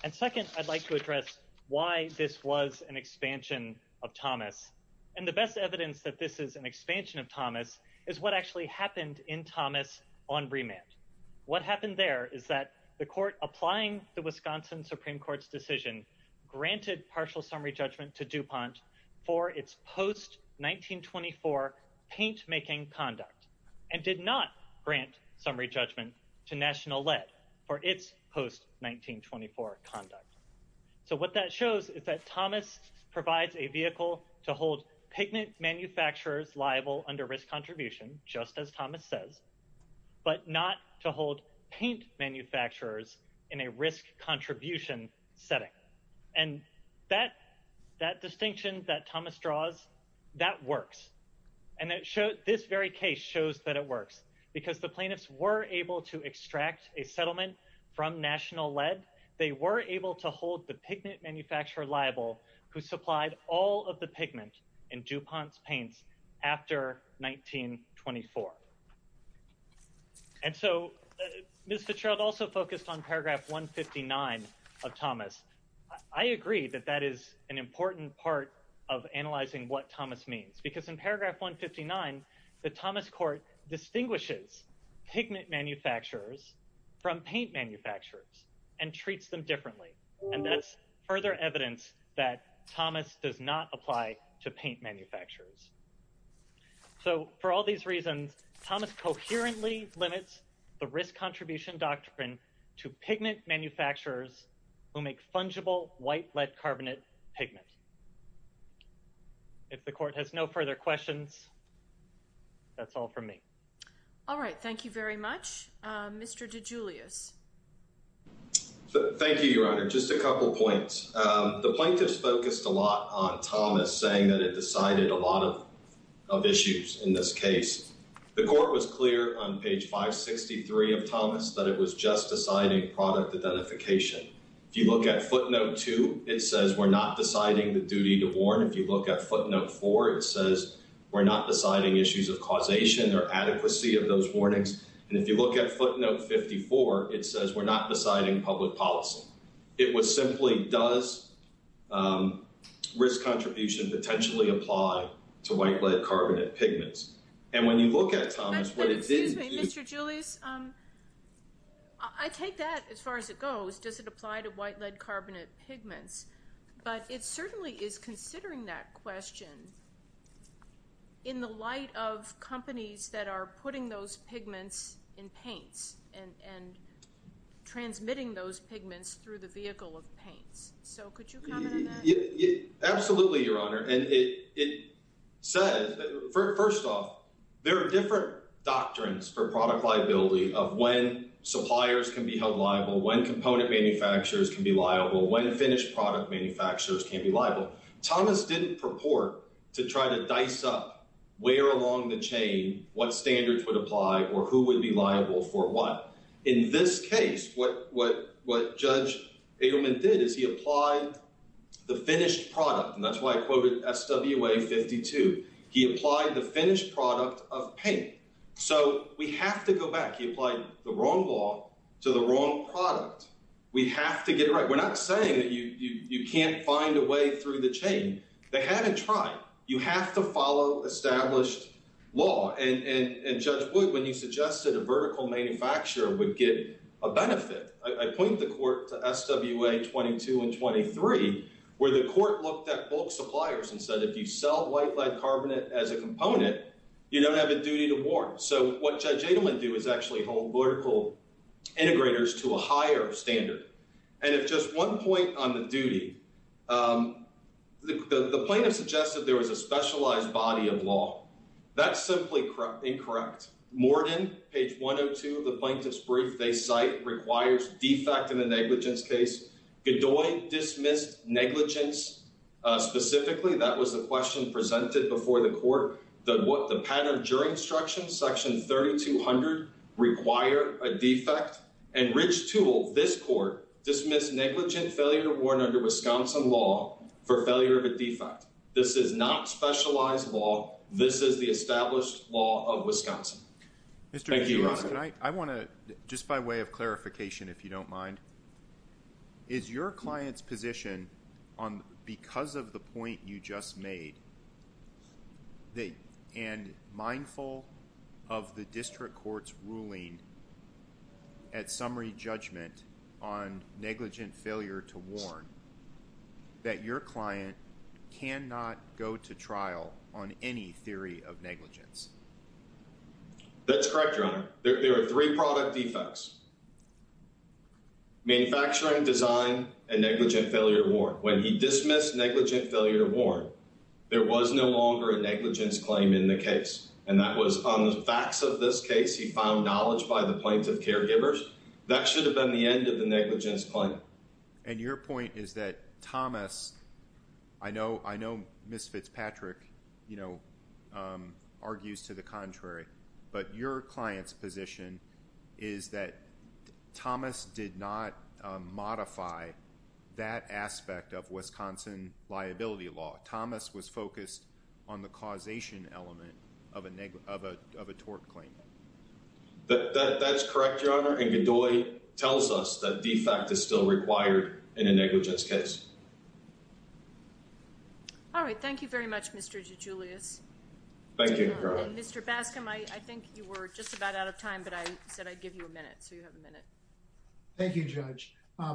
And second, I'd like to address why this was an expansion of Thomas. And the best evidence that this is an expansion of Thomas is what actually happened in Thomas on remand. What happened there is that the court, applying the Wisconsin Supreme Court's decision, granted partial summary judgment to DuPont for its post-1924 paint-making conduct and did not grant summary judgment to National Lead for its post-1924 conduct. So what that shows is that Thomas provides a vehicle to hold pigment manufacturers liable under risk contribution, just as Thomas says, but not to hold paint manufacturers in a risk contribution setting. And that distinction that Thomas draws, that works. And this very case shows that it works because the plaintiffs were able to extract a settlement from National Lead. They were able to hold the pigment manufacturer liable who supplied all of the pigments in DuPont's paints after 1924. And so, Mr. Chair, I'd also focus on paragraph 159 of Thomas. I agree that that is an important part of analyzing what Thomas means because in paragraph 159, the Thomas court distinguishes pigment manufacturers from paint manufacturers and treats them differently. And that's further evidence that Thomas does not apply to paint manufacturers. So for all these reasons, Thomas coherently limits the risk contribution doctrine to pigment manufacturers who make fungible white lead carbonate pigments. If the court has no further questions, that's all from me. All right. Thank you very much. Mr. DeGiulio. Thank you, Your Honor. Just a couple of points. The plaintiffs focused a lot on Thomas saying that it decided a lot of issues in this case. The court was clear on page 563 of Thomas that it was just deciding product identification. If you look at footnote two, it says we're not deciding the duty to warn. If you look at footnote four, it says we're not deciding issues of causation or adequacy of those warnings. And if you look at footnote 54, it says we're not deciding public policy. It was simply, does risk contribution potentially apply to white lead carbonate pigments? And when you look at Thomas, what it did... Excuse me, Mr. Julius. I take that as far as it goes. Does it apply to white lead carbonate pigments? But it certainly is considering that question in the light of companies that are putting those pigments in paint and transmitting those pigments through the vehicle of paint. So could you comment on that? Absolutely, Your Honor. And it says, first off, there are different doctrines for product liability of when suppliers can be held liable, when component manufacturers can be liable, when finished product manufacturers can be liable. Thomas didn't purport to try to dice up where along the chain what standards would apply or who would be liable for what. In this case, what Judge Eggerman did is he applied the finished product. And that's why I quoted SWA 52. He applied the finished product of paint. So we have to go back. He applied the wrong law to the wrong product. We have to get it right. We're not saying that you can't find a way through the chain. They haven't tried. You have to follow established law. And Judge Wood, when he suggested a vertical manufacturer would get a benefit, I pointed the court to SWA 22 and 23, where the court looked at bulk suppliers and said if you sell white lead carbonate as a component, you don't have a duty to warrant. So what Judge Eggerman did was actually hold vertical integrators to a higher standard. And at just one point on the duty, the plaintiff suggested there was a specialized body of law. That's simply incorrect. Morden, page 102 of the plaintiff's brief, they cite requires defect in a negligence case. Bedoy dismissed negligence. Specifically, that was the question presented before the court. The pattern during instruction, section 3200, require a defect. And Rich Toole, this court, dismissed negligence failure to warrant under Wisconsin law for failure to defect. This is not specialized law. This is the established law of Wisconsin. Thank you, Your Honor. I want to, just by way of clarification, if you don't mind, is your client's position because of the point you just made and mindful of the district court's ruling at summary judgment on negligent failure to warrant that your client cannot go to trial on any theory of negligence? That's correct, Your Honor. There are three product defects, manufacturing, design, and negligent failure to warrant. When he dismissed negligent failure to warrant, there was no longer a negligence claim in the case. And that was on the facts of this case. He found knowledge by the plaintiff's caregivers. That should have been the end of the negligence claim. And your point is that Thomas, I know Ms. Fitzpatrick, you know, argues to the contrary, but your client's position is that Thomas did not modify that aspect of Wisconsin liability law. Thomas was focused on the causation element of a tort claim. That's correct, Your Honor. And Godoy tells us that defect is still required in a negligence case. All right. Thank you very much, Mr. DeGiulio. Thank you, Your Honor. Mr. Bascom, I think you were just about out of time, but I said I'd give you a minute, so you have a minute. Thank you, Judge.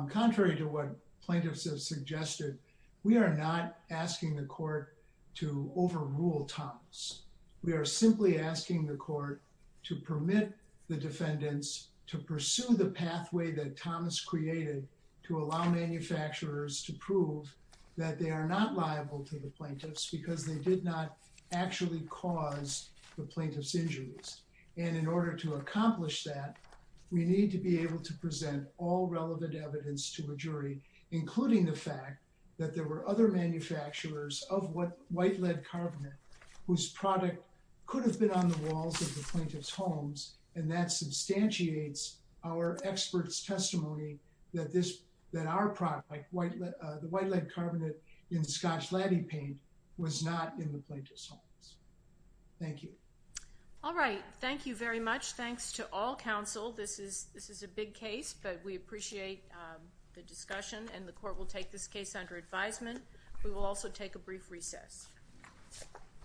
Contrary to what plaintiffs have suggested, we are not asking the court to overrule Thomas. We are simply asking the court to permit the defendants to pursue the pathway that Thomas created to allow manufacturers to prove that they are not liable to the plaintiffs because they did not actually cause the plaintiff's injuries. And in order to accomplish that, we need to be able to present all relevant evidence to a jury, including the fact that there were other manufacturers of white lead carbonate whose product could have been on the walls of the plaintiff's homes, and that substantiates our expert's testimony that our product, the white lead carbonate in Scotch laddy paint, was not in the plaintiff's homes. Thank you. All right. Thank you very much. Thanks to all counsel. This is a big case, but we appreciate the discussion, and the court will take this case under advisement. We will also take a brief recess.